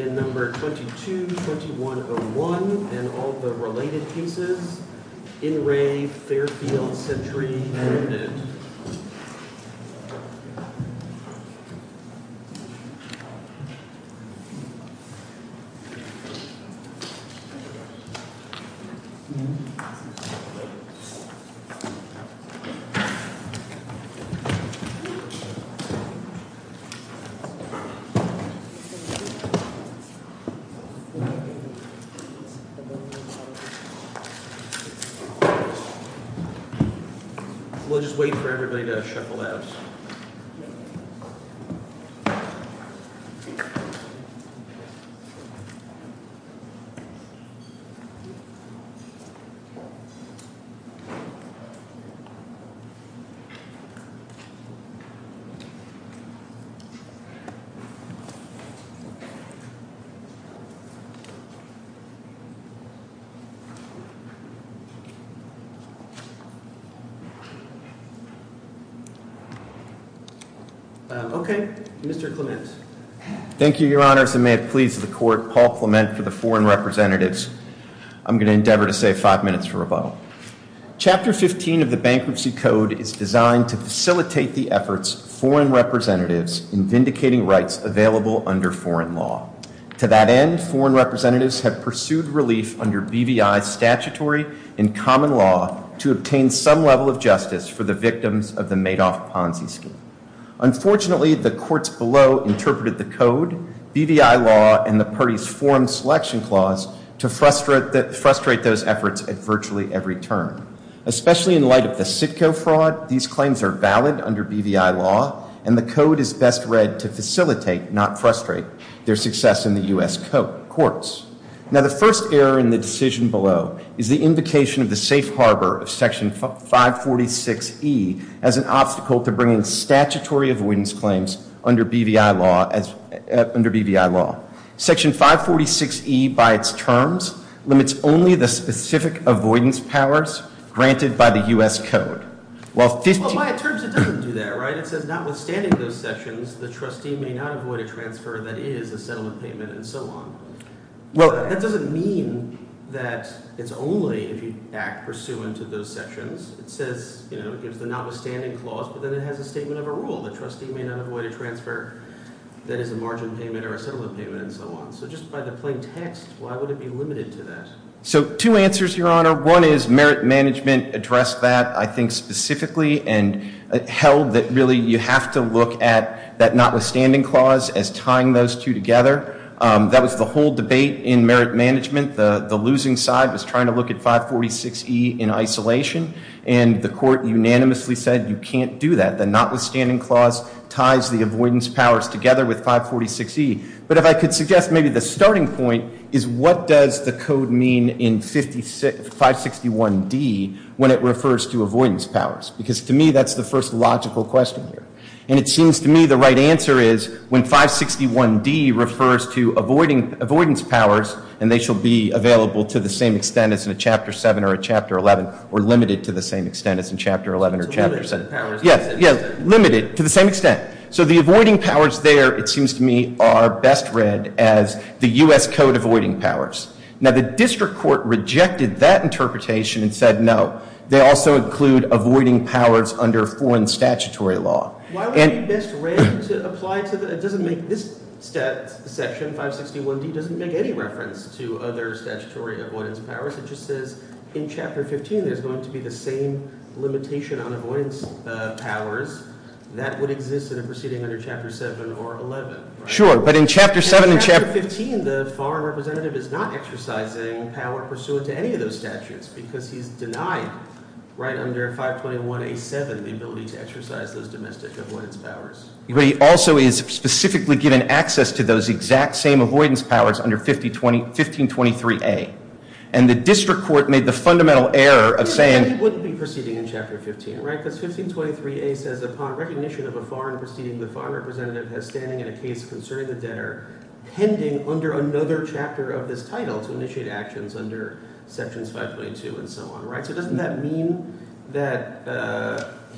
in number 22-2101, and all the related pieces in Re Fairfield Sentry Limited. We'll just wait for everybody to shuffle out. Okay, Mr. Clement. Thank you, Your Honors, and may it please the Court, Paul Clement for the Foreign Representatives. I'm going to endeavor to save five minutes for rebuttal. Chapter 15 of the Bankruptcy Code is designed to facilitate the efforts of foreign representatives in vindicating rights available under foreign law. To that end, foreign representatives have pursued relief under BVI statutory and common law to obtain some level of justice for the victims of the Madoff-Ponzi scheme. Unfortunately, the courts below interpreted the code, BVI law, and the party's foreign selection clause to frustrate those efforts at virtually every turn. Especially in light of the CITCO fraud, these claims are valid under BVI law, and the code is best read to facilitate, not frustrate, their success in the U.S. courts. Now, the first error in the decision below is the invocation of the safe harbor of Section 546E as an obstacle to bringing statutory avoidance claims under BVI law. Section 546E, by its terms, limits only the specific avoidance powers granted by the U.S. Code. Well, by its terms, it doesn't do that, right? It says notwithstanding those sections, the trustee may not avoid a transfer that is a settlement payment and so on. Well, that doesn't mean that it's only if you act pursuant to those sections. It says, you know, it gives the notwithstanding clause, but then it has a statement of a rule. The trustee may not avoid a transfer that is a margin payment or a settlement payment and so on. So just by the plain text, why would it be limited to that? So two answers, Your Honor. One is merit management addressed that, I think, specifically, and held that really you have to look at that notwithstanding clause as tying those two together. That was the whole debate in merit management. The losing side was trying to look at 546E in isolation, and the court unanimously said you can't do that. The notwithstanding clause ties the avoidance powers together with 546E. But if I could suggest maybe the starting point is what does the code mean in 561D when it refers to avoidance powers? Because to me, that's the first logical question here. And it seems to me the right answer is when 561D refers to avoidance powers, and they shall be available to the same extent as in a Chapter 7 or a Chapter 11, or limited to the same extent as in Chapter 11 or Chapter 7. Yeah, limited to the same extent. So the avoiding powers there, it seems to me, are best read as the U.S. Code avoiding powers. Now, the district court rejected that interpretation and said no. They also include avoiding powers under foreign statutory law. Why would it be best read to apply to the – it doesn't make – this section, 561D, doesn't make any reference to other statutory avoidance powers. It just says in Chapter 15 there's going to be the same limitation on avoidance powers that would exist in a proceeding under Chapter 7 or 11. Sure, but in Chapter 7 and Chapter – So you're saying the foreign representative is not exercising power pursuant to any of those statutes because he's denied right under 521A.7 the ability to exercise those domestic avoidance powers. But he also is specifically given access to those exact same avoidance powers under 1523A. And the district court made the fundamental error of saying – Yeah, but he wouldn't be proceeding in Chapter 15, right? Because 1523A says upon recognition of a foreign proceeding, the foreign representative has standing in a case concerning the debtor pending under another chapter of this title to initiate actions under Sections 522 and so on, right? So doesn't that mean that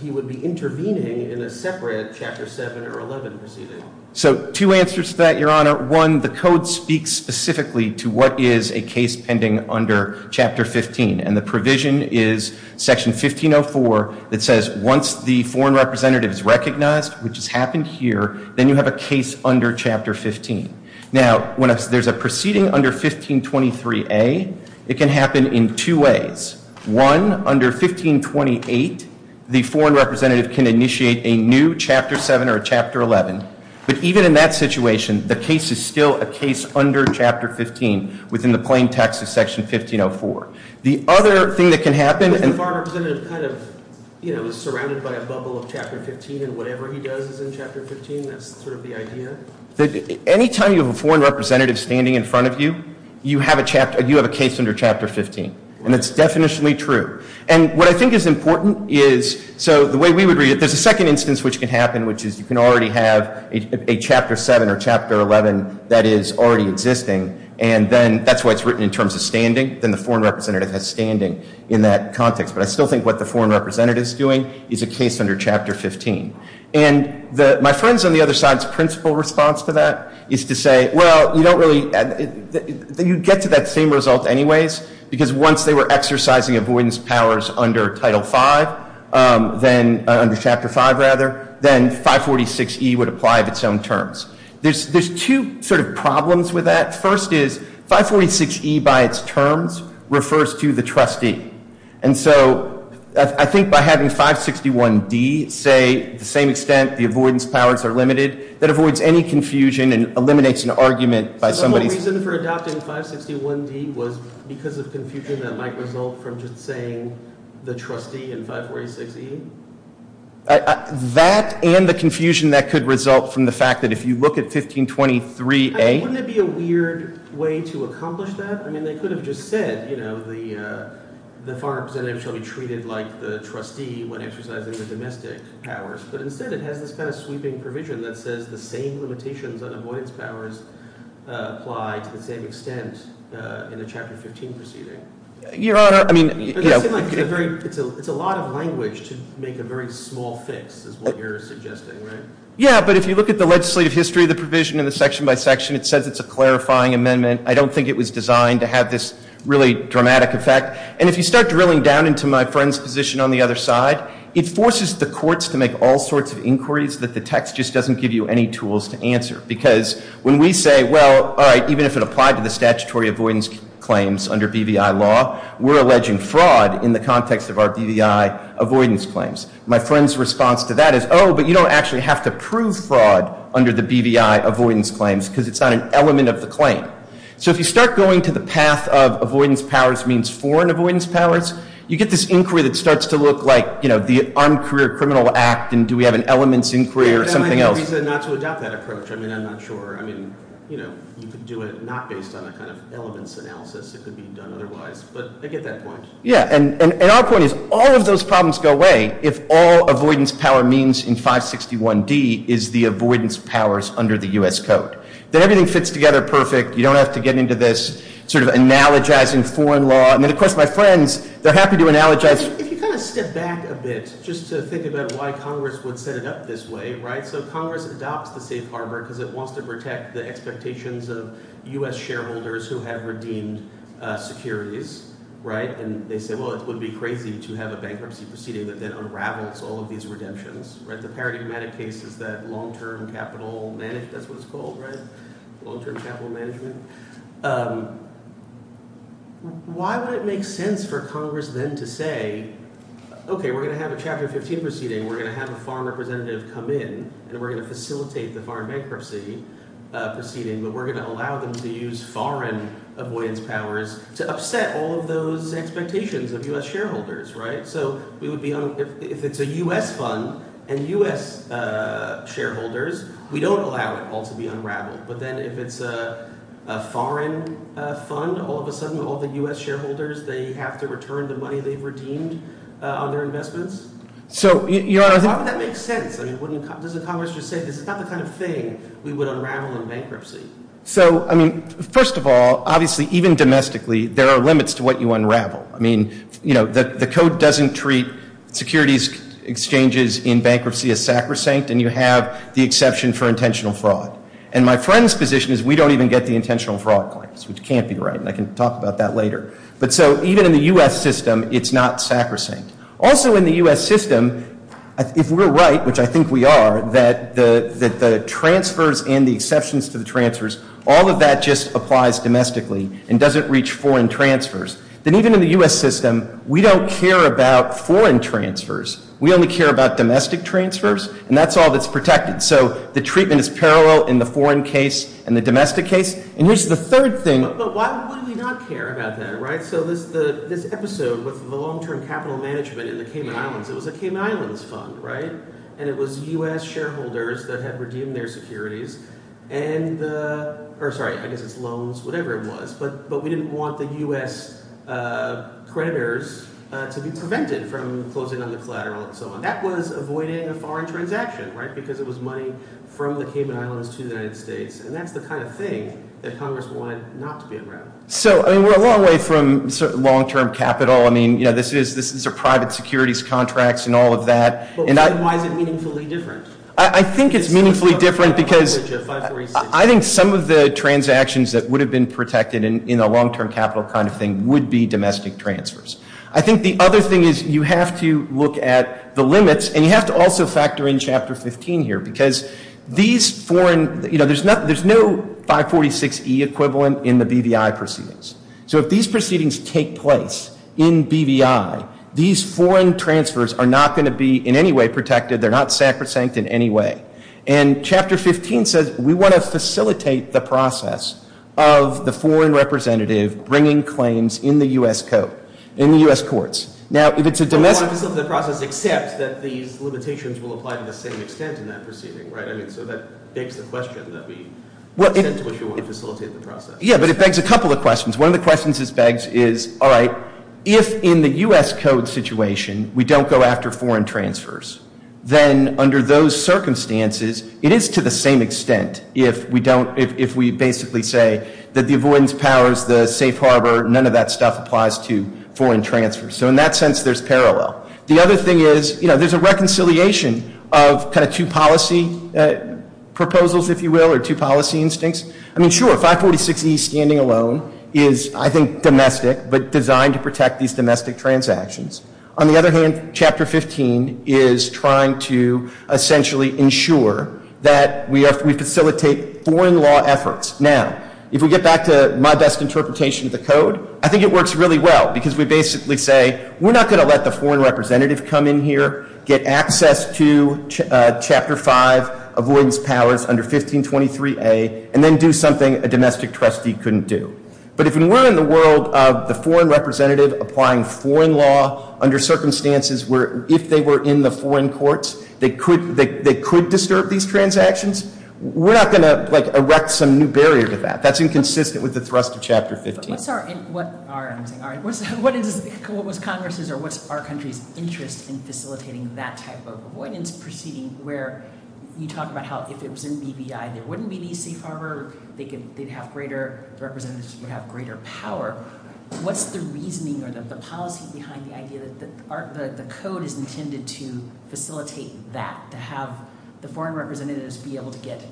he would be intervening in a separate Chapter 7 or 11 proceeding? So two answers to that, Your Honor. One, the Code speaks specifically to what is a case pending under Chapter 15. And the provision is Section 1504 that says once the foreign representative is recognized, which has happened here, then you have a case under Chapter 15. Now, when there's a proceeding under 1523A, it can happen in two ways. One, under 1528, the foreign representative can initiate a new Chapter 7 or a Chapter 11. But even in that situation, the case is still a case under Chapter 15 within the plain text of Section 1504. The other thing that can happen – If the foreign representative kind of, you know, is surrounded by a bubble of Chapter 15 and whatever he does is in Chapter 15, that's sort of the idea? Any time you have a foreign representative standing in front of you, you have a case under Chapter 15. And that's definitionally true. And what I think is important is – so the way we would read it, there's a second instance which can happen, which is you can already have a Chapter 7 or Chapter 11 that is already existing, and then that's why it's written in terms of standing. Then the foreign representative has standing in that context. But I still think what the foreign representative is doing is a case under Chapter 15. And my friends on the other side's principle response to that is to say, well, you don't really – you get to that same result anyways, because once they were exercising avoidance powers under Title 5, then – under Chapter 5, rather, then 546E would apply of its own terms. There's two sort of problems with that. The first is 546E by its terms refers to the trustee. And so I think by having 561D say to the same extent the avoidance powers are limited, that avoids any confusion and eliminates an argument by somebody – So the whole reason for adopting 561D was because of confusion that might result from just saying the trustee in 546E? That and the confusion that could result from the fact that if you look at 1523A – Is there a weird way to accomplish that? I mean they could have just said the foreign representative shall be treated like the trustee when exercising the domestic powers. But instead it has this kind of sweeping provision that says the same limitations on avoidance powers apply to the same extent in the Chapter 15 proceeding. Your Honor, I mean – It's a lot of language to make a very small fix is what you're suggesting, right? Yeah, but if you look at the legislative history of the provision in the section by section, it says it's a clarifying amendment. I don't think it was designed to have this really dramatic effect. And if you start drilling down into my friend's position on the other side, it forces the courts to make all sorts of inquiries that the text just doesn't give you any tools to answer. Because when we say, well, all right, even if it applied to the statutory avoidance claims under BVI law, we're alleging fraud in the context of our BVI avoidance claims. My friend's response to that is, oh, but you don't actually have to prove fraud under the BVI avoidance claims because it's not an element of the claim. So if you start going to the path of avoidance powers means foreign avoidance powers, you get this inquiry that starts to look like the Armed Career Criminal Act and do we have an elements inquiry or something else. That might be the reason not to adopt that approach. I mean I'm not sure. I mean you could do it not based on a kind of elements analysis. It could be done otherwise. But I get that point. Yeah, and our point is all of those problems go away if all avoidance power means in 561D is the avoidance powers under the U.S. Code. Then everything fits together perfect. You don't have to get into this sort of analogizing foreign law. And then, of course, my friends, they're happy to analogize. If you kind of step back a bit just to think about why Congress would set it up this way, right? So Congress adopts the safe harbor because it wants to protect the expectations of U.S. shareholders who have redeemed securities, right? And they say, well, it would be crazy to have a bankruptcy proceeding that then unravels all of these redemptions, right? The paradigmatic case is that long-term capital – that's what it's called, right? Long-term capital management. Why would it make sense for Congress then to say, okay, we're going to have a Chapter 15 proceeding. We're going to have a foreign representative come in and we're going to facilitate the foreign bankruptcy proceeding, but we're going to allow them to use foreign avoidance powers to upset all of those expectations of U.S. shareholders, right? So we would be on – if it's a U.S. fund and U.S. shareholders, we don't allow it all to be unraveled. But then if it's a foreign fund, all of a sudden all the U.S. shareholders, they have to return the money they've redeemed on their investments? Why would that make sense? I mean, wouldn't – doesn't Congress just say this is not the kind of thing we would unravel in bankruptcy? So, I mean, first of all, obviously, even domestically, there are limits to what you unravel. I mean, you know, the Code doesn't treat securities exchanges in bankruptcy as sacrosanct, and you have the exception for intentional fraud. And my friend's position is we don't even get the intentional fraud claims, which can't be right, and I can talk about that later. But so even in the U.S. system, it's not sacrosanct. Also in the U.S. system, if we're right, which I think we are, that the transfers and the exceptions to the transfers, all of that just applies domestically and doesn't reach foreign transfers, then even in the U.S. system, we don't care about foreign transfers. We only care about domestic transfers, and that's all that's protected. So the treatment is parallel in the foreign case and the domestic case. And here's the third thing. But why would we not care about that, right? So this episode with the long-term capital management in the Cayman Islands, it was a Cayman Islands fund, right? And it was U.S. shareholders that had redeemed their securities and the – or sorry, I guess it's loans, whatever it was. But we didn't want the U.S. creditors to be prevented from closing on the collateral and so on. That was avoiding a foreign transaction, right, because it was money from the Cayman Islands to the United States. And that's the kind of thing that Congress wanted not to be around. So, I mean, we're a long way from long-term capital. I mean, you know, this is a private securities contract and all of that. But why is it meaningfully different? I think it's meaningfully different because I think some of the transactions that would have been protected in a long-term capital kind of thing would be domestic transfers. I think the other thing is you have to look at the limits, and you have to also factor in Chapter 15 here, because these foreign – you know, there's no 546E equivalent in the BVI proceedings. So if these proceedings take place in BVI, these foreign transfers are not going to be in any way protected. They're not sacrosanct in any way. And Chapter 15 says we want to facilitate the process of the foreign representative bringing claims in the U.S. courts. We want to facilitate the process except that these limitations will apply to the same extent in that proceeding, right? I mean, so that begs the question that we – to which we want to facilitate the process. Yeah, but it begs a couple of questions. One of the questions it begs is, all right, if in the U.S. code situation we don't go after foreign transfers, then under those circumstances it is to the same extent if we don't – if we basically say that the avoidance powers, the safe harbor, none of that stuff applies to foreign transfers. So in that sense, there's parallel. The other thing is, you know, there's a reconciliation of kind of two policy proposals, if you will, or two policy instincts. I mean, sure, 546E standing alone is, I think, domestic, but designed to protect these domestic transactions. On the other hand, Chapter 15 is trying to essentially ensure that we facilitate foreign law efforts. Now, if we get back to my best interpretation of the code, I think it works really well, because we basically say we're not going to let the foreign representative come in here, get access to Chapter 5 avoidance powers under 1523A, and then do something a domestic trustee couldn't do. But if we're in the world of the foreign representative applying foreign law under circumstances where, if they were in the foreign courts, they could disturb these transactions, we're not going to, like, erect some new barrier to that. That's inconsistent with the thrust of Chapter 15. All right, I'm sorry. What was Congress's or what's our country's interest in facilitating that type of avoidance proceeding, where you talk about how if it was in BBI, there wouldn't be these safe harbor, they'd have greater – the representatives would have greater power. What's the reasoning or the policy behind the idea that the code is intended to facilitate that, to have the foreign representatives be able to get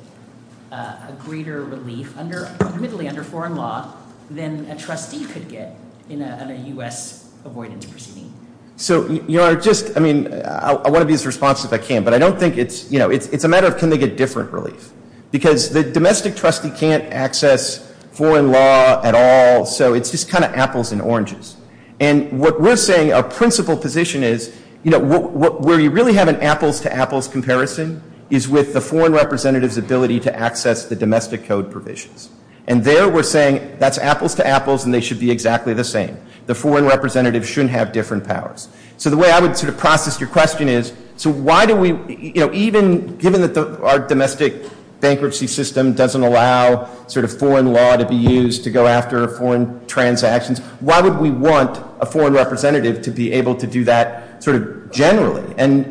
a greater relief, admittedly under foreign law, than a trustee could get in a U.S. avoidance proceeding? So, Your Honor, just – I mean, I want to be as responsive as I can, but I don't think it's – you know, it's a matter of can they get different relief. Because the domestic trustee can't access foreign law at all, so it's just kind of apples and oranges. And what we're saying, our principal position is, you know, where you really have an apples-to-apples comparison is with the foreign representative's ability to access the domestic code provisions. And there we're saying that's apples-to-apples and they should be exactly the same. The foreign representative shouldn't have different powers. So the way I would sort of process your question is, so why do we – you know, even given that our domestic bankruptcy system doesn't allow sort of foreign law to be used to go after foreign transactions, why would we want a foreign representative to be able to do that sort of generally? And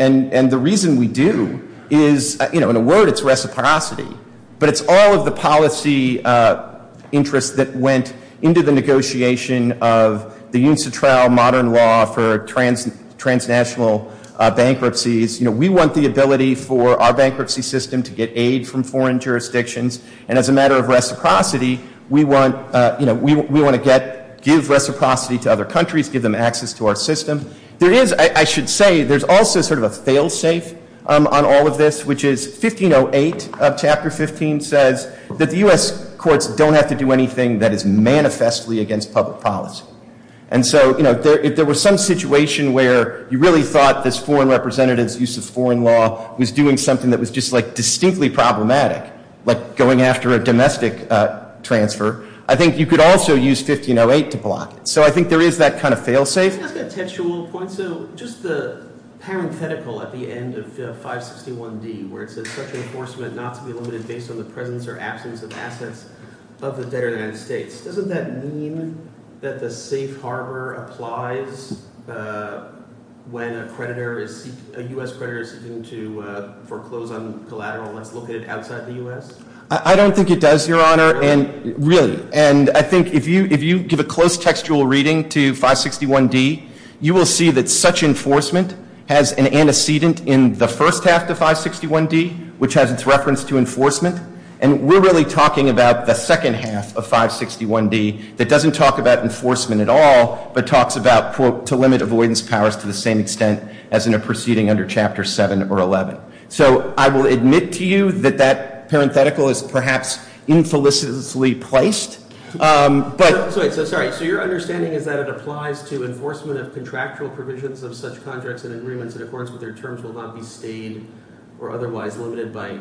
the reason we do is – you know, in a word, it's reciprocity. But it's all of the policy interests that went into the negotiation of the UNCTRAL modern law for transnational bankruptcies. You know, we want the ability for our bankruptcy system to get aid from foreign jurisdictions. And as a matter of reciprocity, we want – you know, we want to get – give reciprocity to other countries, give them access to our system. There is – I should say there's also sort of a fail-safe on all of this, which is 1508 of Chapter 15 says that the U.S. courts don't have to do anything that is manifestly against public policy. And so, you know, if there was some situation where you really thought this foreign representative's use of foreign law was doing something that was just like distinctly problematic, like going after a domestic transfer, I think you could also use 1508 to block it. So I think there is that kind of fail-safe. Let me ask a textual point. So just the parenthetical at the end of 561D where it says, such enforcement not to be limited based on the presence or absence of assets of the debtor United States, doesn't that mean that the safe harbor applies when a creditor is – a U.S. creditor is seeking to foreclose on collateral that's located outside the U.S.? I don't think it does, Your Honor, and – really. And I think if you give a close textual reading to 561D, you will see that such enforcement has an antecedent in the first half of 561D, which has its reference to enforcement. And we're really talking about the second half of 561D that doesn't talk about enforcement at all, but talks about, quote, to limit avoidance powers to the same extent as in a proceeding under Chapter 7 or 11. So I will admit to you that that parenthetical is perhaps infelicently placed, but – Sorry, so your understanding is that it applies to enforcement of contractual provisions of such contracts and agreements in accordance with their terms will not be stayed or otherwise limited by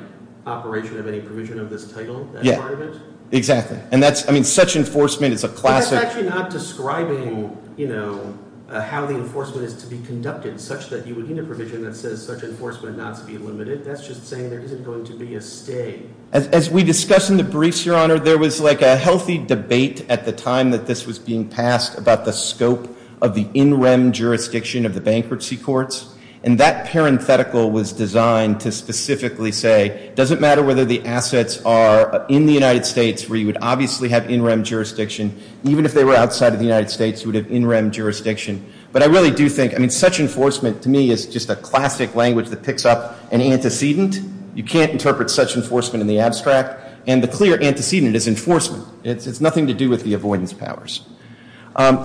operation of any provision of this title, that part of it? Yeah, exactly. And that's – I mean, such enforcement is a classic – But that's actually not describing, you know, how the enforcement is to be conducted, such that you would need a provision that says such enforcement not to be limited. That's just saying there isn't going to be a stay. As we discussed in the briefs, Your Honor, there was like a healthy debate at the time that this was being passed about the scope of the in-rem jurisdiction of the bankruptcy courts. And that parenthetical was designed to specifically say, it doesn't matter whether the assets are in the United States, where you would obviously have in-rem jurisdiction, even if they were outside of the United States, you would have in-rem jurisdiction. But I really do think – I mean, such enforcement, to me, is just a classic language that picks up an antecedent. You can't interpret such enforcement in the abstract. And the clear antecedent is enforcement. It's nothing to do with the avoidance powers.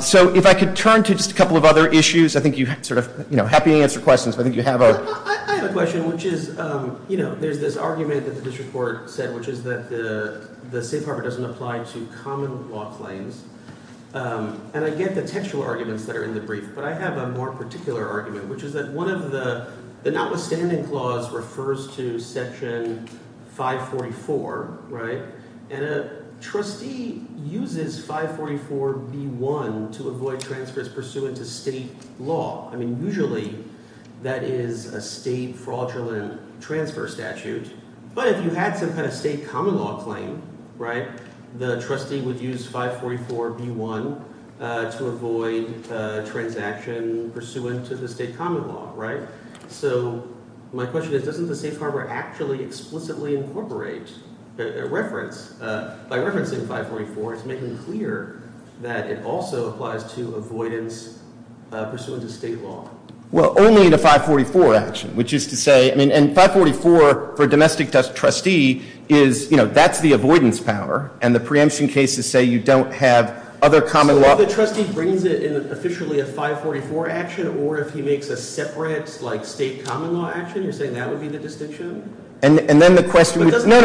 So if I could turn to just a couple of other issues. I think you sort of – you know, happy to answer questions, but I think you have a – I have a question, which is, you know, there's this argument that the district court said, which is that the safe harbor doesn't apply to common law claims. And I get the textual arguments that are in the brief, but I have a more particular argument, which is that one of the – the notwithstanding clause refers to Section 544, right? And a trustee uses 544B1 to avoid transfers pursuant to state law. I mean, usually that is a state fraudulent transfer statute. But if you had some kind of state common law claim, right, the trustee would use 544B1 to avoid a transaction pursuant to the state common law, right? So my question is, doesn't the safe harbor actually explicitly incorporate a reference? By referencing 544, it's making clear that it also applies to avoidance pursuant to state law. Well, only in a 544 action, which is to say – I mean, and 544 for a domestic trustee is – and the preemption cases say you don't have other common law – So if the trustee brings it in officially a 544 action, or if he makes a separate, like, state common law action, you're saying that would be the distinction? And then the question – But doesn't he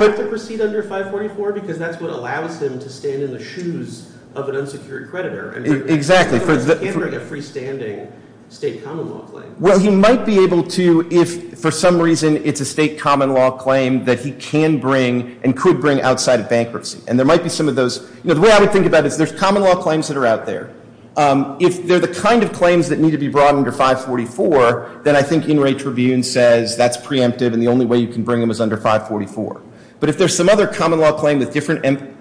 have to proceed under 544? Because that's what allows him to stand in the shoes of an unsecured creditor. Exactly. He can't bring a freestanding state common law claim. Well, he might be able to if for some reason it's a state common law claim that he can bring and could bring outside of bankruptcy. And there might be some of those – you know, the way I would think about it is there's common law claims that are out there. If they're the kind of claims that need to be brought under 544, then I think In re Trivune says that's preemptive and the only way you can bring them is under 544. But if there's some other common law claim with different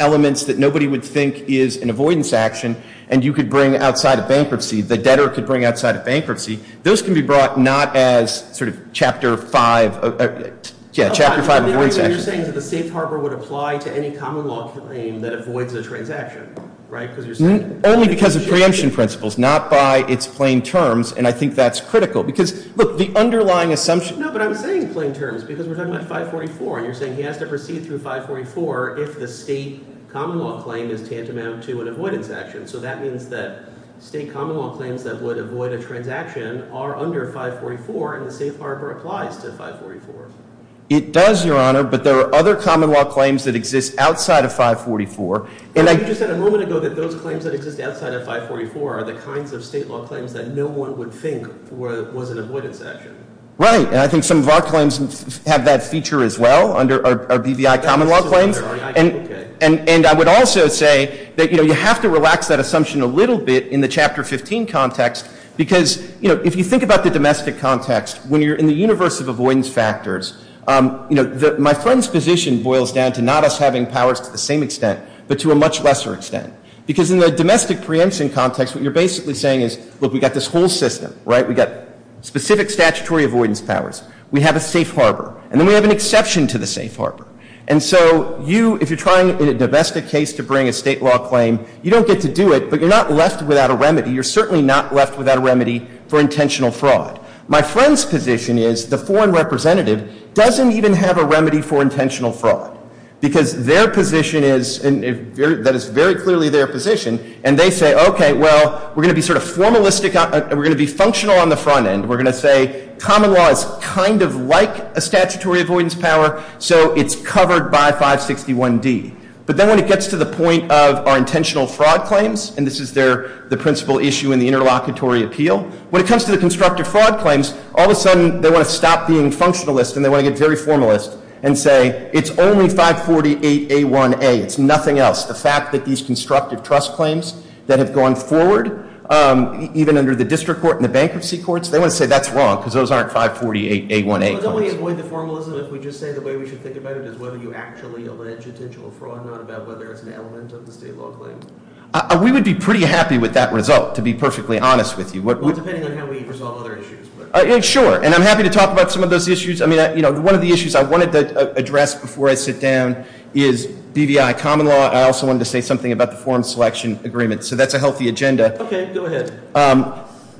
elements that nobody would think is an avoidance action and you could bring outside of bankruptcy, the debtor could bring outside of bankruptcy, those can be brought not as sort of Chapter 5 – yeah, Chapter 5 avoidance actions. But you're saying that the safe harbor would apply to any common law claim that avoids a transaction, right? Because you're saying – Only because of preemption principles, not by its plain terms. And I think that's critical because – look, the underlying assumption – No, but I'm saying plain terms because we're talking about 544. And you're saying he has to proceed through 544 if the state common law claim is tantamount to an avoidance action. So that means that state common law claims that would avoid a transaction are under 544 and the safe harbor applies to 544. It does, Your Honor, but there are other common law claims that exist outside of 544. You just said a moment ago that those claims that exist outside of 544 are the kinds of state law claims that no one would think was an avoidance action. Right, and I think some of our claims have that feature as well, our BVI common law claims. And I would also say that you have to relax that assumption a little bit in the Chapter 15 context because, you know, if you think about the domestic context, when you're in the universe of avoidance factors, you know, my friend's position boils down to not us having powers to the same extent but to a much lesser extent because in the domestic preemption context, what you're basically saying is, look, we've got this whole system, right? We've got specific statutory avoidance powers. We have a safe harbor. And then we have an exception to the safe harbor. And so you, if you're trying in a domestic case to bring a state law claim, you don't get to do it, but you're not left without a remedy. You're certainly not left without a remedy for intentional fraud. My friend's position is the foreign representative doesn't even have a remedy for intentional fraud because their position is, and that is very clearly their position, and they say, okay, well, we're going to be sort of formalistic. We're going to be functional on the front end. We're going to say common law is kind of like a statutory avoidance power, so it's covered by 561D. But then when it gets to the point of our intentional fraud claims, and this is the principal issue in the interlocutory appeal, when it comes to the constructive fraud claims, all of a sudden they want to stop being functionalist and they want to get very formalist and say it's only 548A1A. It's nothing else. The fact that these constructive trust claims that have gone forward, even under the district court and the bankruptcy courts, If we just say the way we should think about it is whether you actually allege intentional fraud, not about whether it's an element of the state law claim. We would be pretty happy with that result, to be perfectly honest with you. Well, depending on how we resolve other issues. Sure, and I'm happy to talk about some of those issues. One of the issues I wanted to address before I sit down is BVI common law. I also wanted to say something about the form selection agreement, so that's a healthy agenda. Okay, go ahead.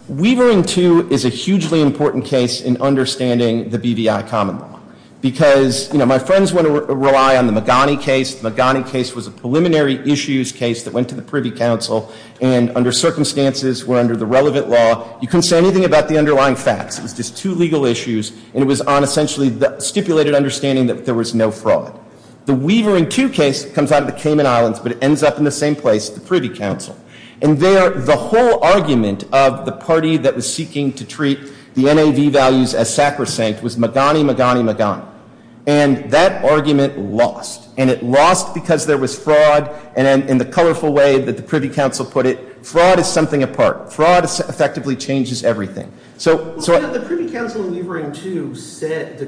Weavering 2 is a hugely important case in understanding the BVI common law. Because, you know, my friends want to rely on the Magani case. The Magani case was a preliminary issues case that went to the Privy Council and under circumstances where under the relevant law, you couldn't say anything about the underlying facts. It was just two legal issues and it was on essentially the stipulated understanding that there was no fraud. The Weavering 2 case comes out of the Cayman Islands, but it ends up in the same place, the Privy Council. And there, the whole argument of the party that was seeking to treat the NAV values as sacrosanct was Magani, Magani, Magani. And that argument lost. And it lost because there was fraud and in the colorful way that the Privy Council put it, fraud is something apart. Fraud effectively changes everything. The Privy Council in Weavering 2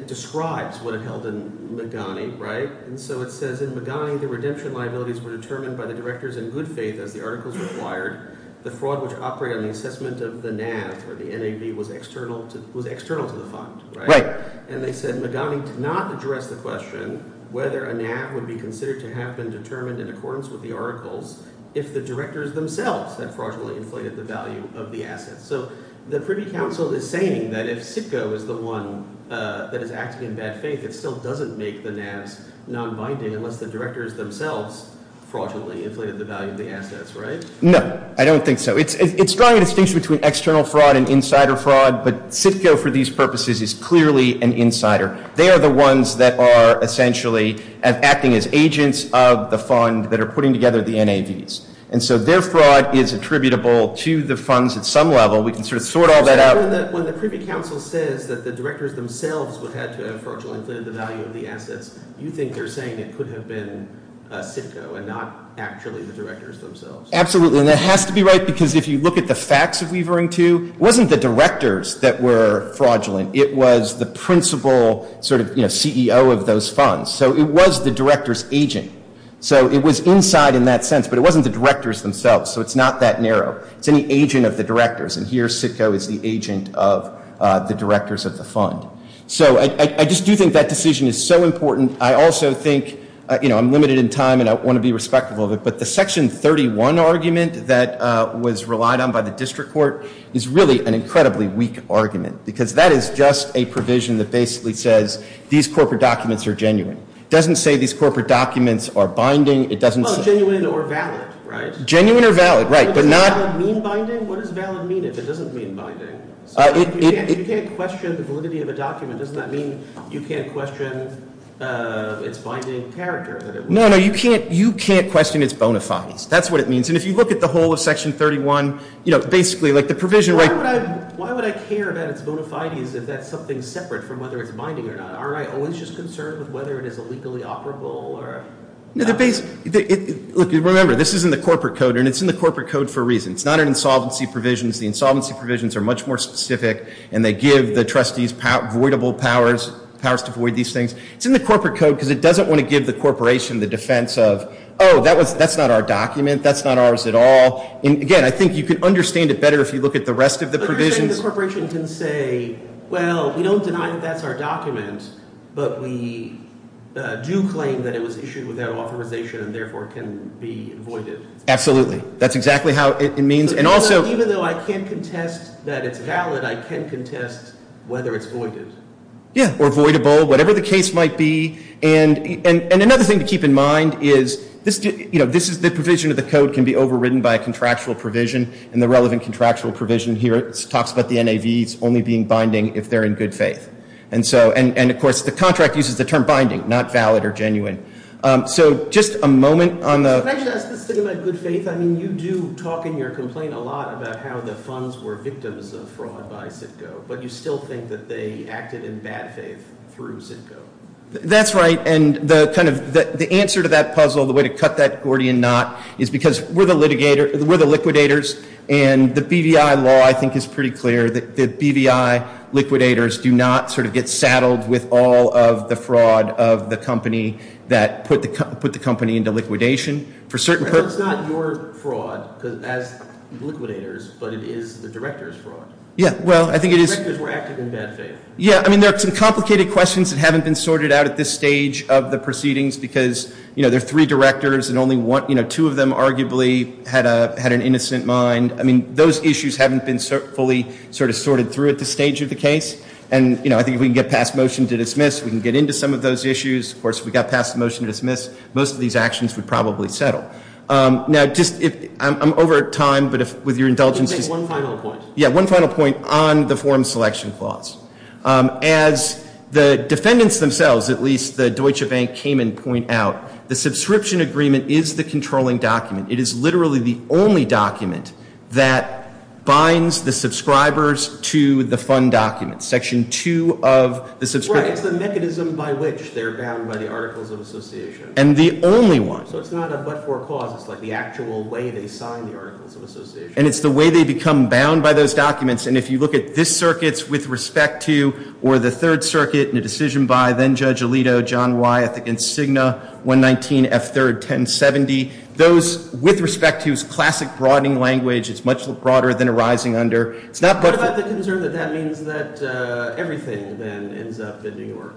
describes what it held in Magani, right? And so it says in Magani the redemption liabilities were determined by the directors in good faith as the articles required. The fraud which operated on the assessment of the NAV or the NAV was external to the fund, right? And they said Magani did not address the question whether a NAV would be considered to have been determined in accordance with the articles if the directors themselves had fraudulently inflated the value of the assets. So the Privy Council is saying that if CITCO is the one that is acting in bad faith, it still doesn't make the NAVs nonbinding unless the directors themselves fraudulently inflated the value of the assets, right? No, I don't think so. It's drawing a distinction between external fraud and insider fraud, but CITCO for these purposes is clearly an insider. They are the ones that are essentially acting as agents of the fund that are putting together the NAVs. And so their fraud is attributable to the funds at some level. We can sort of sort all that out. So when the Privy Council says that the directors themselves would have to have fraudulently inflated the value of the assets, you think they're saying it could have been CITCO and not actually the directors themselves? Absolutely. And that has to be right because if you look at the facts of Weavering II, it wasn't the directors that were fraudulent. It was the principal sort of CEO of those funds. So it was the directors' agent. So it was inside in that sense, but it wasn't the directors themselves. So it's not that narrow. It's any agent of the directors. And here CITCO is the agent of the directors of the fund. So I just do think that decision is so important. I also think, you know, I'm limited in time and I want to be respectful of it, but the Section 31 argument that was relied on by the district court is really an incredibly weak argument because that is just a provision that basically says these corporate documents are genuine. It doesn't say these corporate documents are binding. Well, genuine or valid, right? Genuine or valid, right. But does valid mean binding? What does valid mean if it doesn't mean binding? You can't question the validity of a document. Doesn't that mean you can't question its binding character? No, no, you can't question its bona fides. That's what it means. And if you look at the whole of Section 31, you know, basically like the provision right – Why would I care about its bona fides if that's something separate from whether it's binding or not? Aren't I always just concerned with whether it is illegally operable or – No, the basic – look, remember, this is in the corporate code, and it's in the corporate code for a reason. It's not an insolvency provision. The insolvency provisions are much more specific, and they give the trustees voidable powers, powers to void these things. It's in the corporate code because it doesn't want to give the corporation the defense of, oh, that's not our document, that's not ours at all. And, again, I think you can understand it better if you look at the rest of the provisions. I think the corporation can say, well, we don't deny that that's our document, but we do claim that it was issued without authorization and, therefore, can be voided. Absolutely. That's exactly how it means. And also – Even though I can't contest that it's valid, I can contest whether it's voided. Yeah, or voidable, whatever the case might be. And another thing to keep in mind is, you know, this is – the provision of the code can be overridden by a contractual provision, and the relevant contractual provision here talks about the NAVs only being binding if they're in good faith. And, of course, the contract uses the term binding, not valid or genuine. So just a moment on the – Can I just ask this thing about good faith? I mean, you do talk in your complaint a lot about how the funds were victims of fraud by CITCO, but you still think that they acted in bad faith through CITCO. That's right. And the kind of – the answer to that puzzle, the way to cut that Gordian knot, is because we're the liquidators, and the BVI law, I think, is pretty clear that BVI liquidators do not sort of get saddled with all of the fraud of the company that put the company into liquidation. Well, it's not your fraud as liquidators, but it is the director's fraud. Yeah, well, I think it is – Directors were acting in bad faith. Yeah, I mean, there are some complicated questions that haven't been sorted out at this stage of the proceedings because, you know, there are three directors and only one – you know, two of them arguably had an innocent mind. I mean, those issues haven't been fully sort of sorted through at this stage of the case. And, you know, I think if we can get past motion to dismiss, we can get into some of those issues. Of course, if we got past the motion to dismiss, most of these actions would probably settle. Now, just if – I'm over time, but if – with your indulgence, just – Just make one final point. Yeah, one final point on the form selection clause. As the defendants themselves, at least, the Deutsche Bank, came and point out, the subscription agreement is the controlling document. It is literally the only document that binds the subscribers to the fund documents. Section 2 of the – Right, it's the mechanism by which they're bound by the Articles of Association. And the only one. So it's not a but-for clause. It's like the actual way they sign the Articles of Association. And it's the way they become bound by those documents. And if you look at this circuit's with respect to, or the Third Circuit, and a decision by then-Judge Alito, John Wyeth, against Cigna, 119 F3rd 1070, those with respect to is classic broadening language. It's much broader than a rising under. It's not but-for. What about the concern that that means that everything, then, ends up in New York?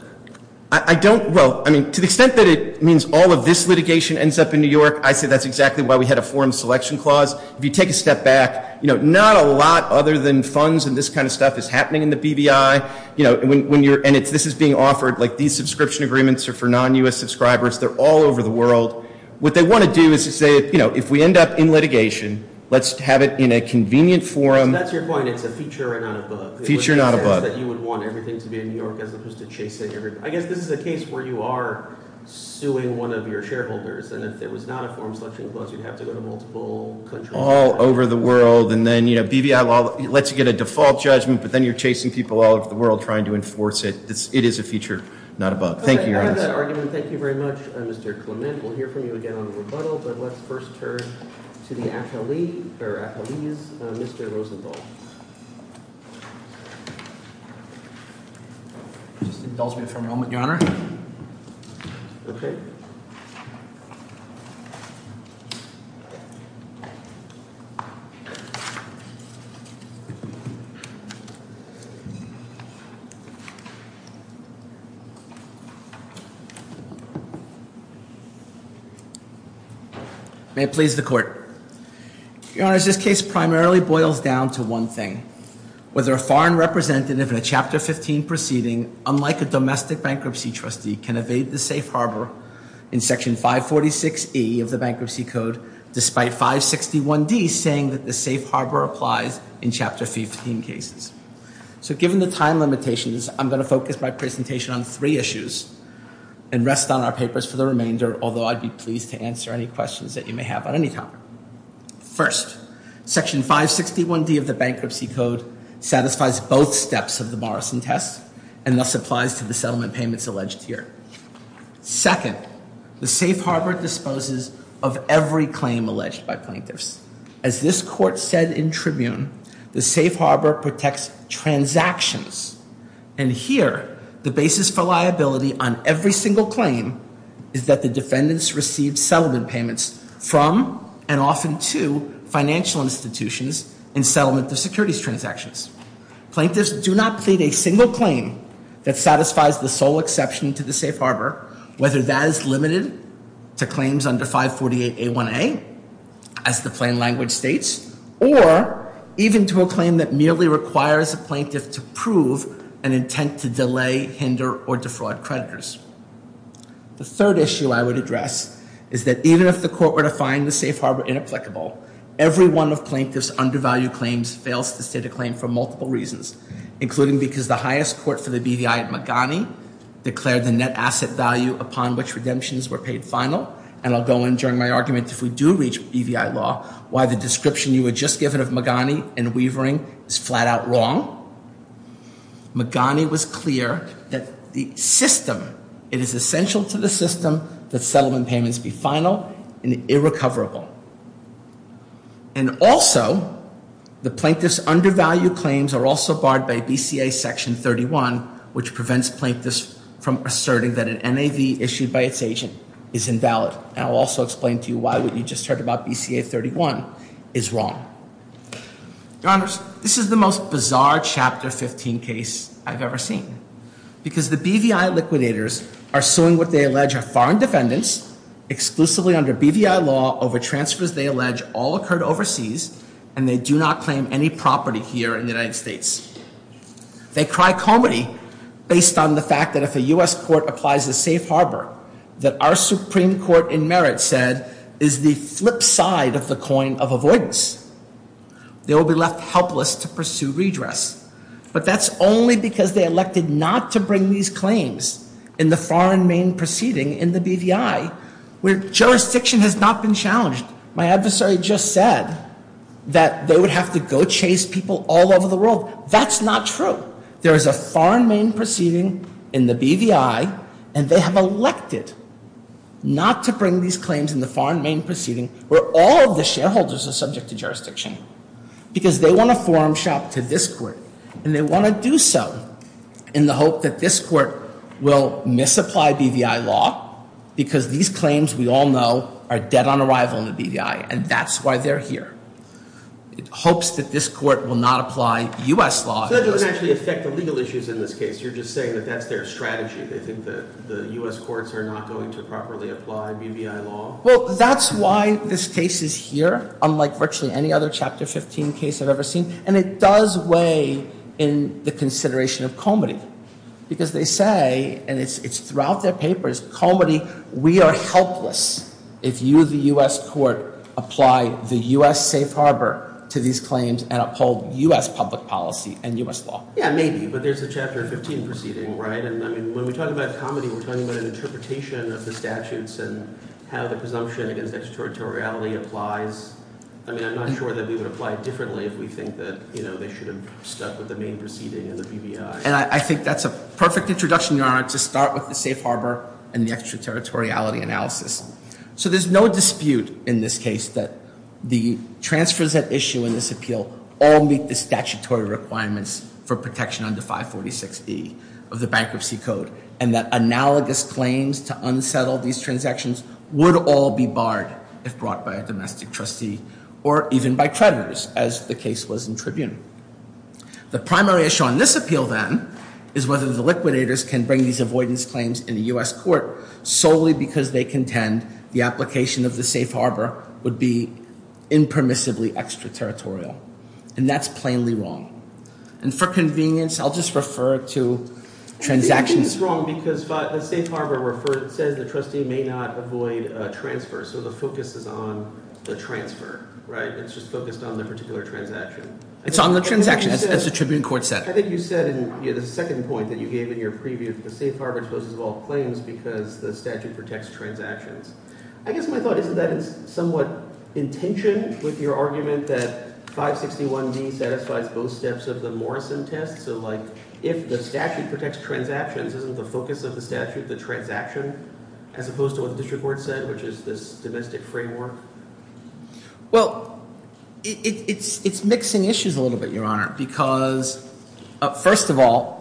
I don't – well, I mean, to the extent that it means all of this litigation ends up in New York, I say that's exactly why we had a form selection clause. If you take a step back, you know, not a lot other than funds and this kind of stuff is happening in the BBI. You know, when you're – and this is being offered, like, these subscription agreements are for non-U.S. subscribers. They're all over the world. What they want to do is to say, you know, if we end up in litigation, let's have it in a convenient forum. So that's your point. It's a feature and not a but. Feature, not a but. You would want everything to be in New York as opposed to chasing everything. I guess this is a case where you are suing one of your shareholders. And if there was not a form selection clause, you'd have to go to multiple countries. All over the world. And then, you know, BBI law lets you get a default judgment, but then you're chasing people all over the world trying to enforce it. It is a feature, not a but. Thank you, Your Honor. All right. I have that argument. Thank you very much, Mr. Clement. We'll hear from you again on the rebuttal. But let's first turn to the affilees, Mr. Rosenthal. Just indulge me for a moment, Your Honor. Okay. Thank you. May it please the Court. Your Honor, this case primarily boils down to one thing. Whether a foreign representative in a Chapter 15 proceeding, unlike a domestic bankruptcy trustee, can evade the safe harbor in Section 546E of the Bankruptcy Code, despite 561D saying that the safe harbor applies in Chapter 15 cases. So given the time limitations, I'm going to focus my presentation on three issues and rest on our papers for the remainder, although I'd be pleased to answer any questions that you may have on any topic. First, Section 561D of the Bankruptcy Code satisfies both steps of the Morrison test and thus applies to the settlement payments alleged here. Second, the safe harbor disposes of every claim alleged by plaintiffs. As this Court said in Tribune, the safe harbor protects transactions. And here, the basis for liability on every single claim is that the defendants receive settlement payments from and often to financial institutions in settlement of securities transactions. Plaintiffs do not plead a single claim that satisfies the sole exception to the safe harbor, whether that is limited to claims under 548A1A, as the plain language states, or even to a claim that merely requires a plaintiff to prove an intent to delay, hinder, or defraud creditors. The third issue I would address is that even if the Court were to find the safe harbor inapplicable, every one of plaintiffs' undervalued claims fails to state a claim for multiple reasons, including because the highest court for the BVI at Magani declared the net asset value upon which redemptions were paid final. And I'll go in during my argument, if we do reach BVI law, why the description you had just given of Magani and Weavering is flat-out wrong. Magani was clear that the system, it is essential to the system that settlement payments be final and irrecoverable. And also, the plaintiff's undervalued claims are also barred by BCA Section 31, which prevents plaintiffs from asserting that an NAV issued by its agent is invalid. And I'll also explain to you why what you just heard about BCA 31 is wrong. Your Honors, this is the most bizarre Chapter 15 case I've ever seen, because the BVI liquidators are suing what they allege are foreign defendants, exclusively under BVI law, over transfers they allege all occurred overseas, and they do not claim any property here in the United States. They cry comedy based on the fact that if a U.S. court applies a safe harbor that our Supreme Court in merit said is the flip side of the coin of avoidance, they will be left helpless to pursue redress. But that's only because they elected not to bring these claims in the foreign main proceeding in the BVI, where jurisdiction has not been challenged. My adversary just said that they would have to go chase people all over the world. That's not true. There is a foreign main proceeding in the BVI, and they have elected not to bring these claims in the foreign main proceeding where all of the shareholders are subject to jurisdiction, because they want to forum shop to this court, and they want to do so in the hope that this court will misapply BVI law, because these claims we all know are dead on arrival in the BVI, and that's why they're here. It hopes that this court will not apply U.S. law. So that doesn't actually affect the legal issues in this case. You're just saying that that's their strategy. They think that the U.S. courts are not going to properly apply BVI law? Well, that's why this case is here, unlike virtually any other Chapter 15 case I've ever seen, and it does weigh in the consideration of Comity, because they say, and it's throughout their papers, Comity, we are helpless if you, the U.S. court, apply the U.S. safe harbor to these claims and uphold U.S. public policy and U.S. law. Yeah, maybe, but there's a Chapter 15 proceeding, right? And, I mean, when we talk about Comity, we're talking about an interpretation of the statutes and how the presumption against extraterritoriality applies. I mean, I'm not sure that we would apply it differently if we think that, you know, they should have stuck with the main proceeding in the BVI. And I think that's a perfect introduction, Your Honor, to start with the safe harbor and the extraterritoriality analysis. So there's no dispute in this case that the transfers at issue in this appeal all meet the statutory requirements for protection under 546E of the Bankruptcy Code and that analogous claims to unsettle these transactions would all be barred if brought by a domestic trustee or even by treasurers, as the case was in Tribune. The primary issue on this appeal, then, is whether the liquidators can bring these avoidance claims in the U.S. court solely because they contend the application of the safe harbor would be impermissibly extraterritorial. And that's plainly wrong. And for convenience, I'll just refer to transactions. It's wrong because the safe harbor says the trustee may not avoid a transfer, so the focus is on the transfer, right? It's just focused on the particular transaction. It's on the transaction, as the Tribune court said. I think you said in the second point that you gave in your preview that the safe harbor exposes all claims because the statute protects transactions. I guess my thought is that it's somewhat in tension with your argument that 561D satisfies both steps of the Morrison test. So, like, if the statute protects transactions, isn't the focus of the statute the transaction as opposed to what the district court said, which is this domestic framework? Well, it's mixing issues a little bit, Your Honor, because, first of all,